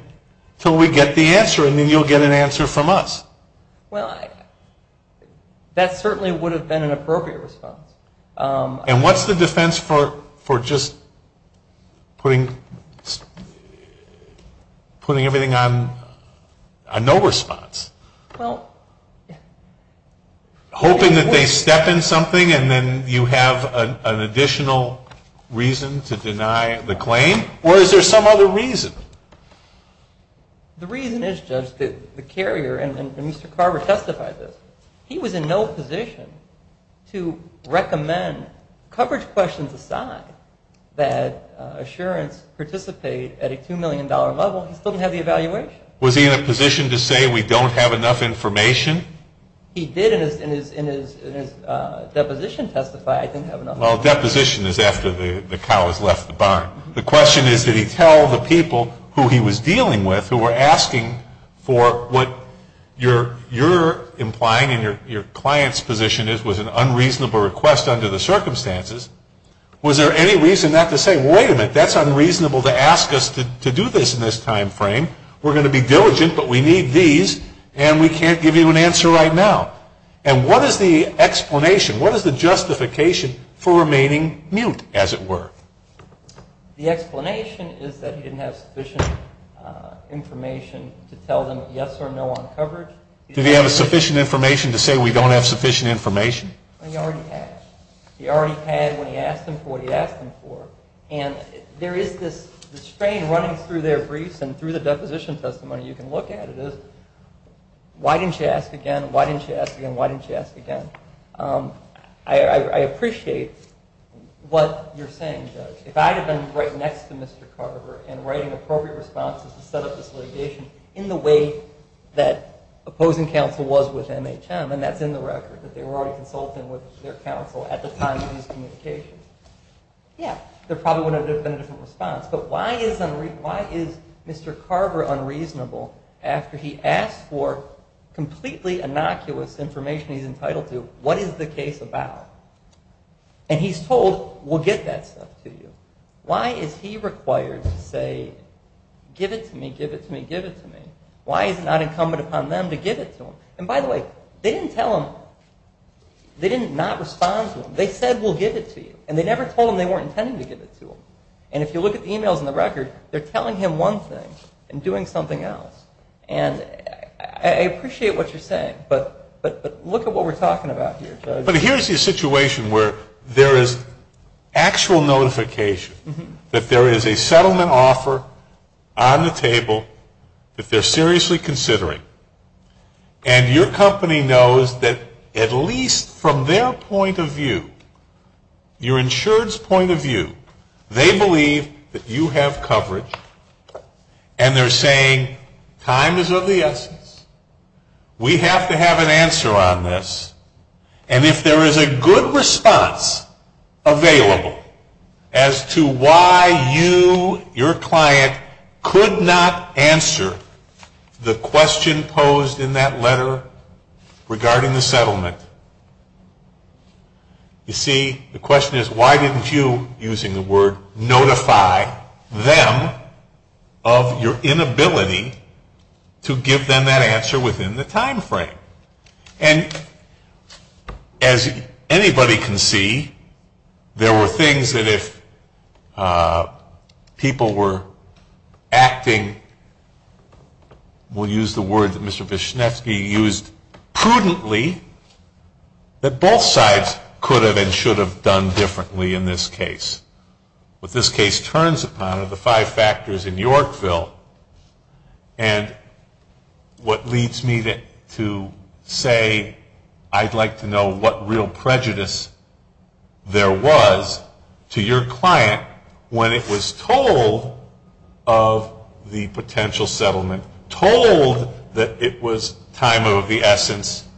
until we get the answer and then you'll get an answer from us. Well, that certainly would have been an appropriate response. And what's the defense for just putting everything on a no response? Well. Hoping that they step in something and then you have an additional reason to deny the claim? Or is there some other reason? The reason is, Judge, that the carrier and Mr. Carver testified this. He was in no position to recommend, coverage questions aside, that assurance participate at a $2 million level. He still didn't have the evaluation. Was he in a position to say we don't have enough information? He did in his deposition testify. I didn't have enough information. Well, deposition is after the cow has left the barn. The question is, did he tell the people who he was dealing with, who were asking for what you're implying and your client's position is was an unreasonable request under the circumstances. Was there any reason not to say, wait a minute, that's unreasonable to ask us to do this in this time frame. We're going to be diligent, but we need these and we can't give you an answer right now. And what is the explanation? What is the justification for remaining mute, as it were? The explanation is that he didn't have sufficient information to tell them yes or no on coverage. Did he have sufficient information to say we don't have sufficient information? He already had. He already had when he asked them for what he asked them for. And there is this strain running through their briefs and through the deposition testimony. You can look at it as, why didn't you ask again? Why didn't you ask again? Why didn't you ask again? I appreciate what you're saying, Judge. If I had been right next to Mr. Carver and writing appropriate responses to set up this litigation in the way that opposing counsel was with MHM, and that's in the record, that they were already consulting with their counsel at the time of these communications. Yeah, there probably would have been a different response. But why is Mr. Carver unreasonable after he asked for completely innocuous information he's entitled to? What is the case about? And he's told, we'll get that stuff to you. Why is he required to say, give it to me, give it to me, give it to me? Why is it not incumbent upon them to give it to him? And by the way, they didn't tell him, they did not respond to him. They said, we'll give it to you. And they never told him they weren't intending to give it to him. And if you look at the emails in the record, they're telling him one thing and doing something else, and I appreciate what you're saying. But look at what we're talking about here, Judge. But here's the situation where there is actual notification that there is a settlement offer on the table that they're seriously considering. And your company knows that at least from their point of view, your insured's point of view, they believe that you have coverage. And they're saying, time is of the essence. We have to have an answer on this. And if there is a good response available as to why you, your client, could not answer the question posed in that letter regarding the settlement, you see, the question is, why didn't you, using the word, notify them of your inability to give them that answer within the time frame? And as anybody can see, there were things that if people were acting, we'll use the word that Mr. Vishnetsky used prudently, that both sides could have and should have done differently in this case. What this case turns upon are the five factors in Yorkville. And what leads me to say I'd like to know what real prejudice there was to your client when it was told of the potential settlement, told that it was time of the essence,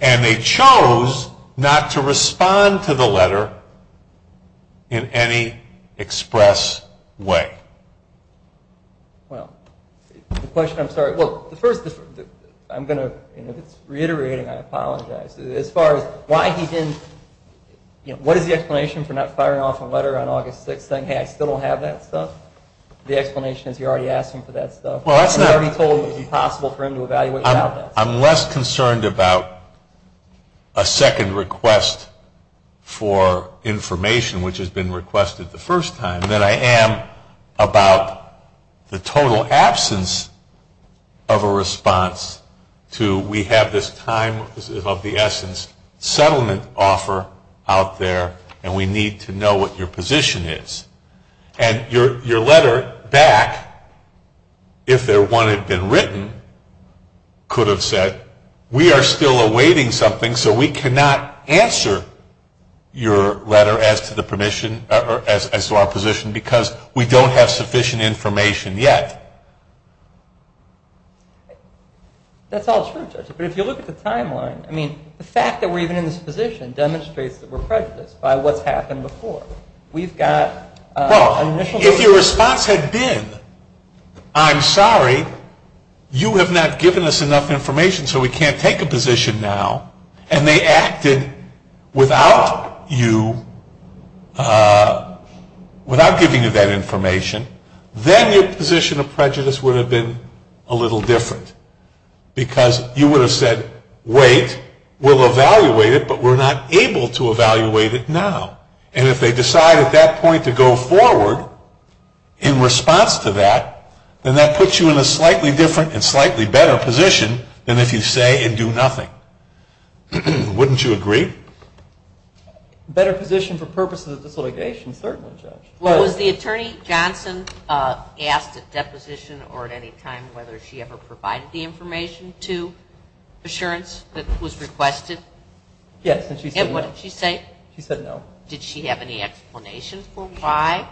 and they chose not to respond to the letter in any express way. Well, the question, I'm sorry, the first, I'm going to, and if it's reiterating, I apologize. As far as why he didn't, you know, what is the explanation for not firing off a letter on August 6th saying, hey, I still don't have that stuff? The explanation is you already asked him for that stuff. You already told him it was impossible for him to evaluate without that stuff. I'm less concerned about a second request for information, which has been requested the first time, than I am about the total absence of a response to we have this time of the essence settlement offer out there and we need to know what your position is. And your letter back, if there one had been written, could have said, we are still awaiting something, so we cannot answer your letter as to the permission, as to our position, because we don't have sufficient information yet. That's all true, Judge, but if you look at the timeline, I mean, the fact that we're even in this position demonstrates that we're prejudiced by what's happened before. We've got an initial. Well, if your response had been, I'm sorry, you have not given us enough information so we can't take a position now, and they acted without you, without giving you that information, then your position of prejudice would have been a little different, because you would have said, wait, we'll evaluate it, but we're not able to evaluate it now. And if they decide at that point to go forward in response to that, then that puts you in a slightly different and slightly better position than if you say and do nothing. Wouldn't you agree? Better position for purposes of this litigation, certainly, Judge. Well, was the attorney, Johnson, asked at deposition or at any time whether she ever provided the information to assurance that was requested? Yes, and she said no. And what did she say? She said no. Did she have any explanation for why?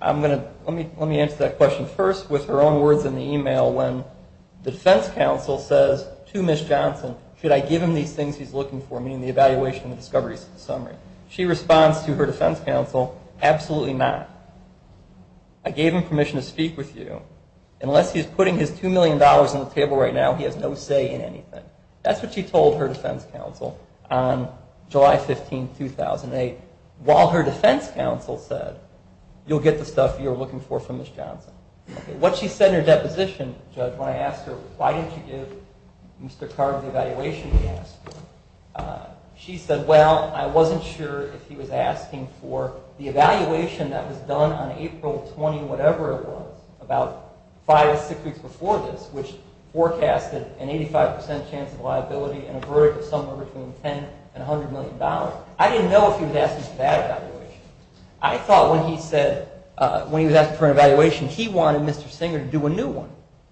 I'm going to, let me answer that question first with her own words in the email when the defense counsel says to Ms. Johnson, should I give him these things he's looking for, meaning the evaluation and discoveries summary. She responds to her defense counsel, absolutely not. I gave him permission to speak with you. Unless he's putting his $2 million on the table right now, he has no say in anything. That's what she told her defense counsel on July 15, 2008, while her defense counsel said, you'll get the stuff you're looking for from Ms. Johnson. What she said in her deposition, Judge, when I asked her, why didn't you give Mr. Carter the evaluation he asked for, she said, well, I wasn't sure if he was asking for the evaluation that was done on April 20, whatever it was, about five or six weeks before this, which forecasted an 85% chance of liability and a verdict of somewhere between $10 and $100 million. I thought when he said, when he was asking for an evaluation, he wanted Mr. Singer to do a new one,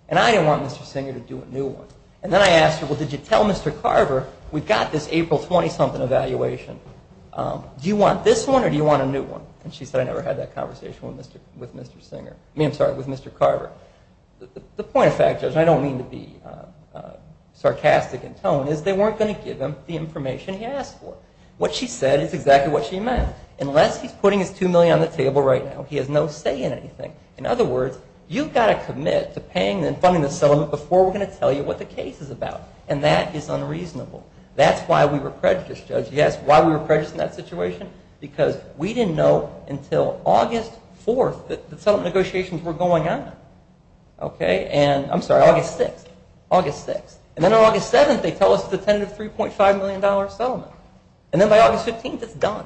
and I didn't want Mr. Singer to do a new one. And then I asked her, well, did you tell Mr. Carver we've got this April 20 something evaluation, do you want this one or do you want a new one? And she said, I never had that conversation with Mr. Singer, I mean, I'm sorry, with Mr. Carver. The point of fact, Judge, and I don't mean to be sarcastic in tone, is they weren't going to give him the information he asked for. What she said is exactly what she meant. Unless he's putting his $2 million on the table right now, he has no say in anything. In other words, you've got to commit to paying and funding the settlement before we're going to tell you what the case is about, and that is unreasonable. That's why we were prejudiced, Judge. You ask why we were prejudiced in that situation? Because we didn't know until August 4 that the settlement negotiations were going on. Okay? And, I'm sorry, August 6, August 6, and then on August 7, they tell us it's a tentative $3.5 million settlement, and then by August 15, it's done.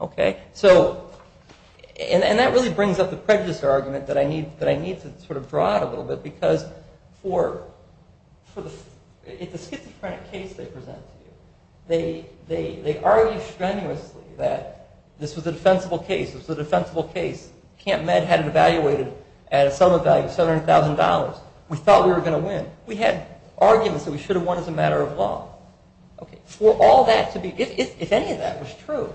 Okay? So, and that really brings up the prejudice argument that I need to sort of draw out a little bit, because for the, it's a schizophrenic case they present to you. They argue strenuously that this was a defensible case. It was a defensible case. Camp Med had it evaluated at a sum of value of $700,000. We thought we were going to win. We had arguments that we should have won as a matter of law. Okay. For all that to be, if any of that was true,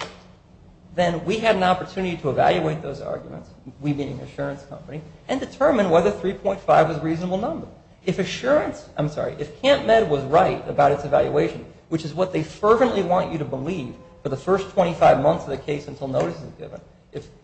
then we had an opportunity to evaluate those arguments, we being an assurance company, and determine whether 3.5 was a reasonable number. If assurance, I'm sorry, if Camp Med was right about its evaluation, which is what they fervently want you to believe for the first 25 months of the case until notice is given,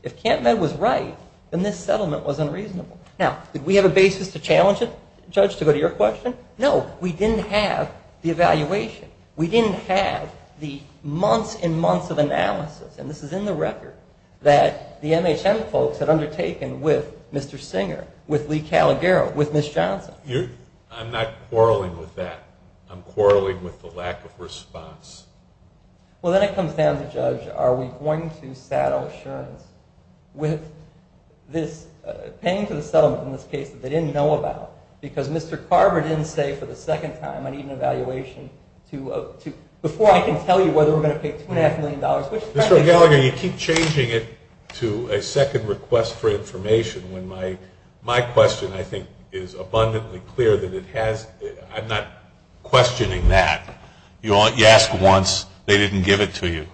if Camp Med was right, then this settlement was unreasonable. Now, did we have a basis to challenge it, Judge, to go to your question? No. We didn't have the evaluation. We didn't have the months and months of analysis, and this is in the record, that the MHM folks had undertaken with Mr. Singer, with Lee Calagaro, with Ms. Johnson. I'm not quarreling with that. I'm quarreling with the lack of response. Well, then it comes down to, Judge, are we going to saddle assurance with this, paying for the settlement in this case that they didn't know about, because Mr. Carver didn't say for the second time, I need an evaluation to, before I can tell you whether we're going to pay $2.5 million, which is practically. Mr. Calagaro, you keep changing it to a second request for information when my question, I think, is abundantly clear that it has, I'm not questioning that. You ask once, they didn't give it to you.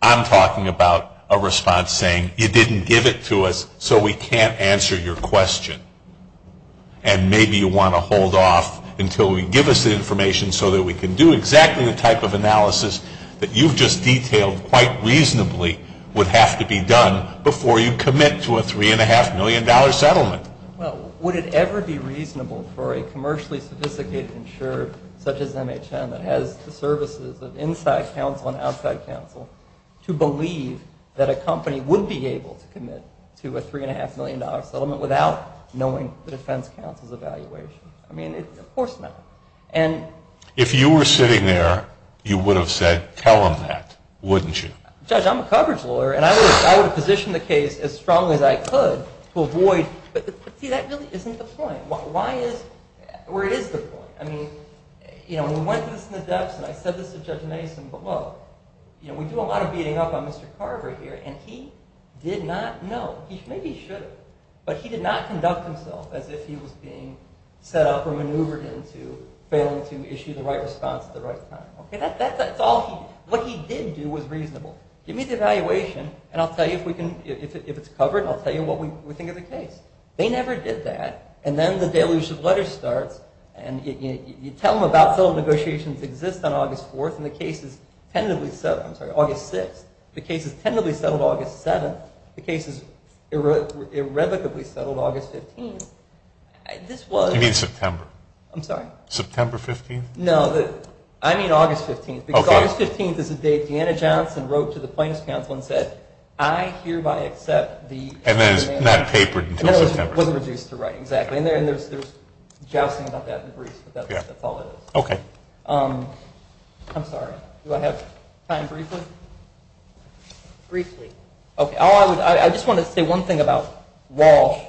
I'm talking about a response saying, you didn't give it to us, so we can't answer your question, and maybe you want to hold off until we give us the information so that we can do exactly the type of analysis that you've just detailed quite reasonably would have to be done before you commit to a $3.5 million settlement. Well, would it ever be reasonable for a commercially sophisticated insurer, such as MHM, that has the services of inside counsel and outside counsel, to believe that a company would be able to commit to a $3.5 million settlement without knowing the defense counsel's evaluation? I mean, of course not. And. If you were sitting there, you would have said, tell him that, wouldn't you? Judge, I'm a coverage lawyer, and I would have positioned the case as strongly as I could to avoid, but see, that really isn't the point. Why is, where is the point? I mean, you know, we went through this in the depths, and I said this to Judge Mason, but, well, you know, we do a lot of beating up on Mr. Carver here, and he did not know. He maybe should have, but he did not conduct himself as if he was being set up or maneuvered into failing to issue the right response at the right time. Okay, that's all he, what he did do was reasonable. Give me the evaluation, and I'll tell you if we can, if it's covered, and I'll tell you what we think of the case. They never did that, and then the daily issue of letters starts, and you tell them about film negotiations exist on August 4th, and the case is tentatively set, I'm sorry, August 6th, the case is tentatively settled August 7th, the case is irrevocably settled August 15th. This was. You mean September. I'm sorry. September 15th? No, I mean August 15th, because August 15th is the date Deanna Johnson wrote to the plaintiff's counsel and said, I hereby accept the. And then it's not papered until September. That's all it is. Okay. I'm sorry, do I have time briefly? Briefly. Okay, I just wanted to say one thing about Walsh,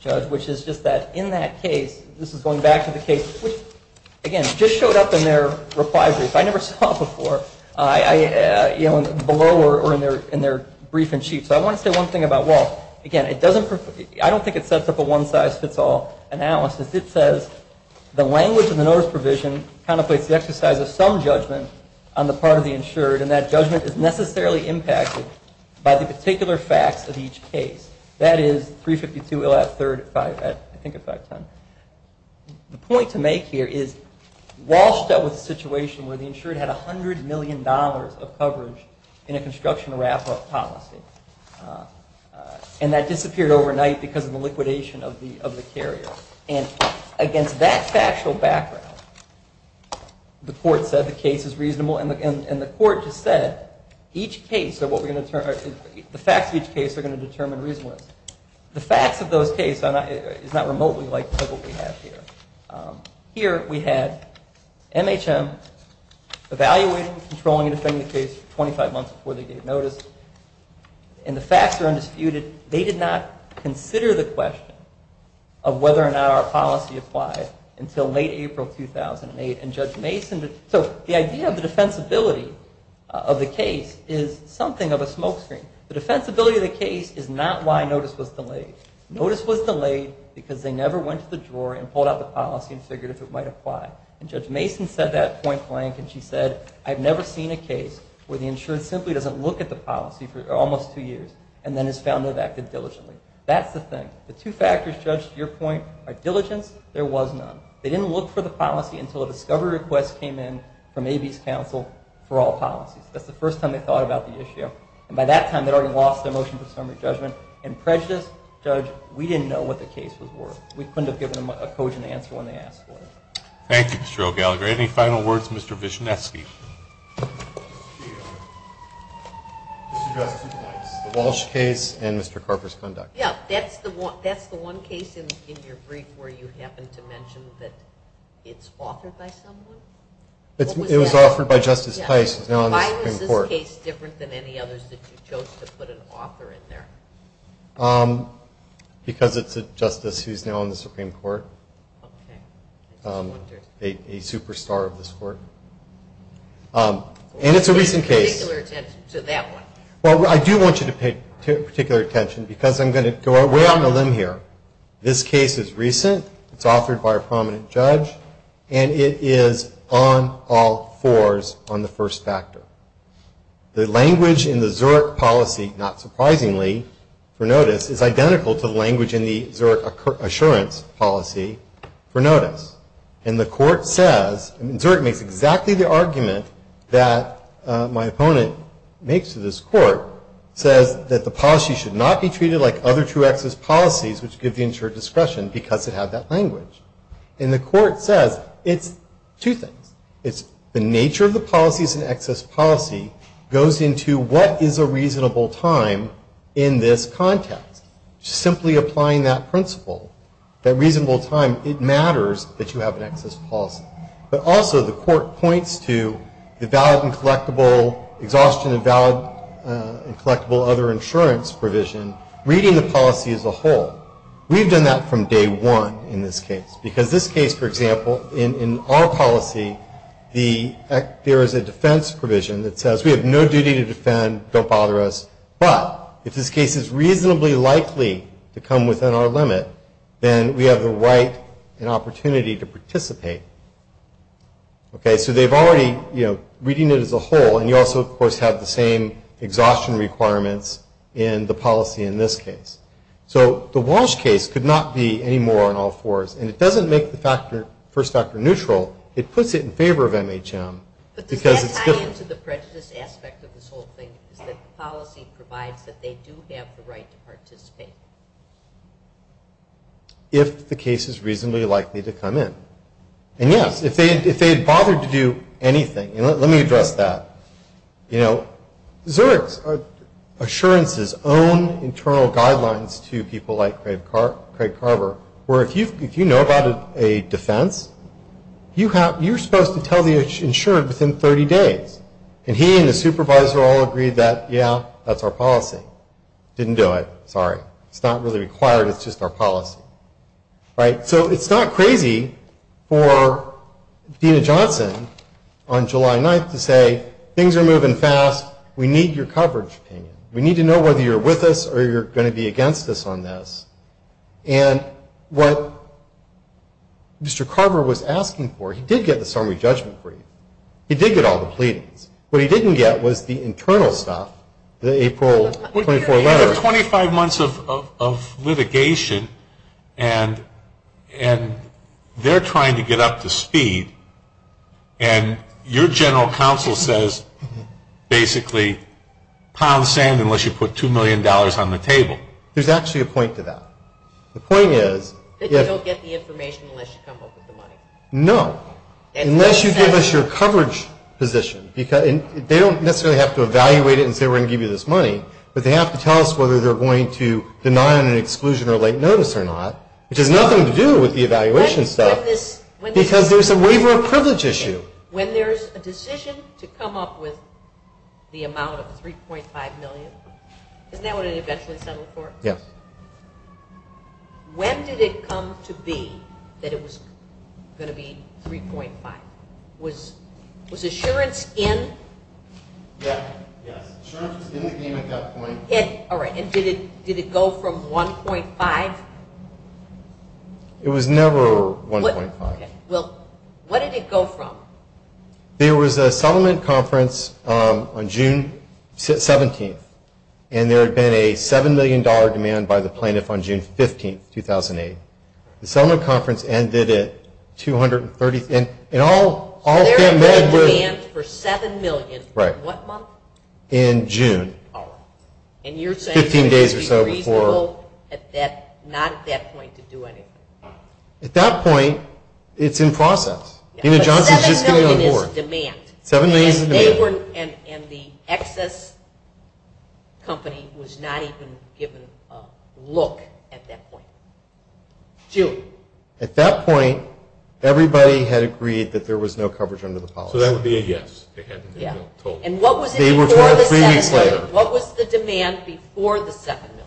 Judge, which is just that in that case, this is going back to the case, which again, just showed up in their reply brief. I never saw it before, you know, below or in their brief and sheet. So I want to say one thing about Walsh, again, it doesn't, I don't think it sets up a one-size-fits-all analysis. It says the language in the notice provision contemplates the exercise of some judgment on the part of the insured, and that judgment is necessarily impacted by the particular facts of each case. That is 352 ill at 3rd, 5th at, I think at 510. The point to make here is Walsh dealt with a situation where the insured had $100 million of coverage in a construction wrap-up policy. And that disappeared overnight because of the liquidation of the carrier. And against that factual background, the court said the case is reasonable, and the court just said each case, the facts of each case are going to determine reasonableness. The facts of those cases is not remotely like what we have here. Here we had MHM evaluating, controlling, and defending the case for 25 months before they gave notice. And the facts are undisputed. They did not consider the question of whether or not our policy applied until late April 2008, and Judge Mason, so the idea of the defensibility of the case is something of a smokescreen. The defensibility of the case is not why notice was delayed. Notice was delayed because they never went to the drawer and pulled out the policy and figured if it might apply. And Judge Mason said that point blank, and she said, I've never seen a case where the insurer simply doesn't look at the policy for almost two years and then is found to have acted diligently. That's the thing. The two factors, Judge, to your point are diligence, there was none. They didn't look for the policy until a discovery request came in from AB's counsel for all policies. That's the first time they thought about the issue. And by that time, they'd already lost their motion for summary judgment. In prejudice, Judge, we didn't know what the case was worth. We couldn't have given them a cogent answer when they asked for it. Thank you, Mr. O'Gallagher. Any final words, Mr. Vishneski? Mr. Justice Pice, the Walsh case and Mr. Carper's conduct. Yeah, that's the one case in your brief where you happened to mention that it's authored by someone? It was authored by Justice Pice, who's now on the Supreme Court. Why is this case different than any others that you chose to put an author in there? Because it's a justice who's now on the Supreme Court. Okay. A superstar of this court. And it's a recent case. Pay particular attention to that one. Well, I do want you to pay particular attention, because I'm going to go way on a limb here. This case is recent. It's authored by a prominent judge. And it is on all fours on the first factor. The language in the Zurich policy, not surprisingly, for notice, is identical to the language in the Zurich assurance policy for notice. And the court says, and Zurich makes exactly the argument that my opponent makes to this court, says that the policy should not be treated like other true access policies, which give the insured discretion, because it had that language. And the court says, it's two things. It's the nature of the policies and excess policy goes into what is a reasonable time in this context. Simply applying that principle, that reasonable time, it matters that you have an excess policy. But also, the court points to the valid and collectible, exhaustion and valid and collectible other insurance provision, reading the policy as a whole. We've done that from day one in this case. Because this case, for example, in our policy, there is a defense provision that says, we have no duty to defend, don't bother us. But, if this case is reasonably likely to come within our limit, then we have the right and opportunity to participate. Okay, so they've already, you know, reading it as a whole. And you also, of course, have the same exhaustion requirements in the policy in this case. So, the Walsh case could not be any more on all fours. And it doesn't make the first factor neutral. It puts it in favor of MHM. Because it's good. But does that tie into the prejudice aspect of this whole thing? Is that the policy provides that they do have the right to participate? If the case is reasonably likely to come in. And yes, if they had bothered to do anything. And let me address that. You know, Zurich's assurances own internal guidelines to people like Craig Carver. Where, if you know about a defense, you're supposed to tell the insurer within 30 days. And he and his supervisor all agreed that, yeah, that's our policy. Didn't do it, sorry. It's not really required. It's just our policy. Right? So, it's not crazy for Dena Johnson on July 9th to say, things are moving fast. We need your coverage opinion. We need to know whether you're with us or you're going to be against us on this. And what Mr. Carver was asking for, he did get the summary judgment brief. He did get all the pleadings. What he didn't get was the internal stuff, the April 24 letter. You have 25 months of litigation and they're trying to get up to speed. And your general counsel says, basically, pile of sand unless you put $2 million on the table. There's actually a point to that. The point is. That you don't get the information unless you come up with the money. No. Unless you give us your coverage position. They don't necessarily have to evaluate it and say, we're going to give you this money. But they have to tell us whether they're going to deny on an exclusion or late notice or not. Which has nothing to do with the evaluation stuff. Because there's a waiver of privilege issue. When there's a decision to come up with the amount of $3.5 million, isn't that what it eventually settled for? Yes. When did it come to be that it was going to be $3.5? Was assurance in? Yes. Assurance was in the game at that point. And did it go from $1.5? It was never $1.5. Well, what did it go from? There was a settlement conference on June 17th. And there had been a $7 million demand by the plaintiff on June 15th, 2008. The settlement conference ended at 230. And all that money was. So there was a demand for $7 million. Right. What month? In June. And you're saying. Fifteen days or so before. It would be reasonable at that, not at that point, to do anything. At that point, it's in process. Nina Johnson's just getting on board. But $7 million is demand. $7 million is demand. And the excess company was not even given a look at that point. Julie. At that point, everybody had agreed that there was no coverage under the policy. So that would be a yes. They had the $7 million total. Yeah. And what was it before the second million? What was the demand before the second million?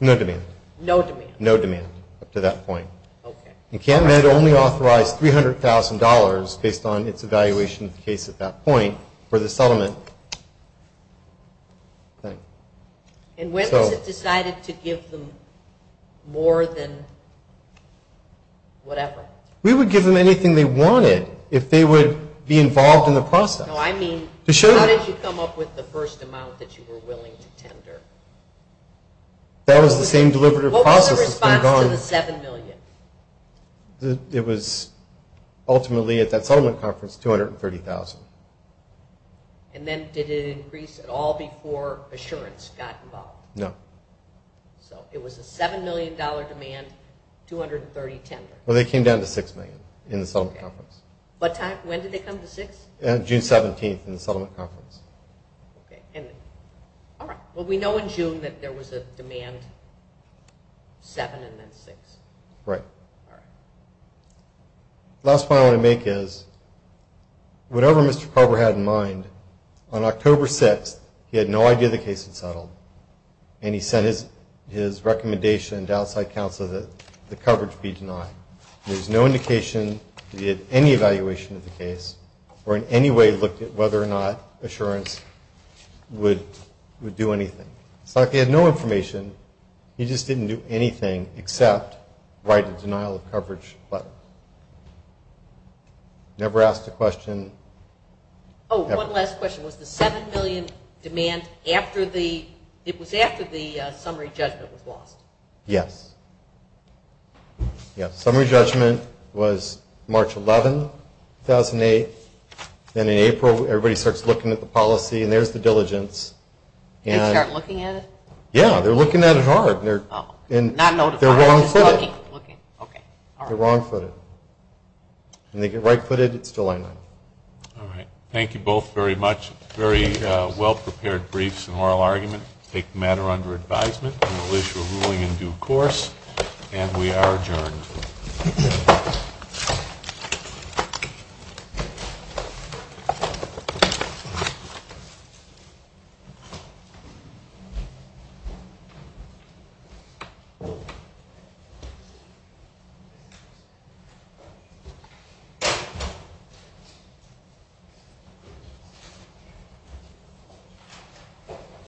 No demand. No demand. No demand up to that point. Okay. And Camp Med only authorized $300,000 based on its evaluation of the case at that point. For the settlement thing. And when was it decided to give them more than whatever? We would give them anything they wanted if they would be involved in the process. No, I mean, how did you come up with the first amount that you were willing to tender? That was the same deliberative process that's been going. What was the response to the $7 million? It was ultimately at that settlement conference, $230,000. And then did it increase at all before Assurance got involved? No. So it was a $7 million demand, $230,000 tender. Well, they came down to $6 million in the settlement conference. What time? When did they come to $6? June 17th in the settlement conference. Okay. And all right. Well, we know in June that there was a demand $7 and then $6. Right. All right. Last point I want to make is, whatever Mr. Carver had in mind, on October 6th he had no idea the case had settled. And he sent his recommendation to outside counsel that the coverage be denied. There's no indication that he had any evaluation of the case or in any way looked at whether or not Assurance would do anything. It's like he had no information. He just didn't do anything except write a denial of coverage letter. Never asked a question. Oh, one last question. Was the $7 million demand after the, it was after the summary judgment was lost? Yes. Yes. Summary judgment was March 11, 2008. Then in April everybody starts looking at the policy. And there's the diligence. They start looking at it? Yeah. They're looking at it hard. And they're wrong-footed. They're wrong-footed. And they get right-footed, it's still a line item. All right. Thank you both very much. Very well-prepared briefs and oral argument. Take the matter under advisement. And we'll issue a ruling in due course. And we are adjourned.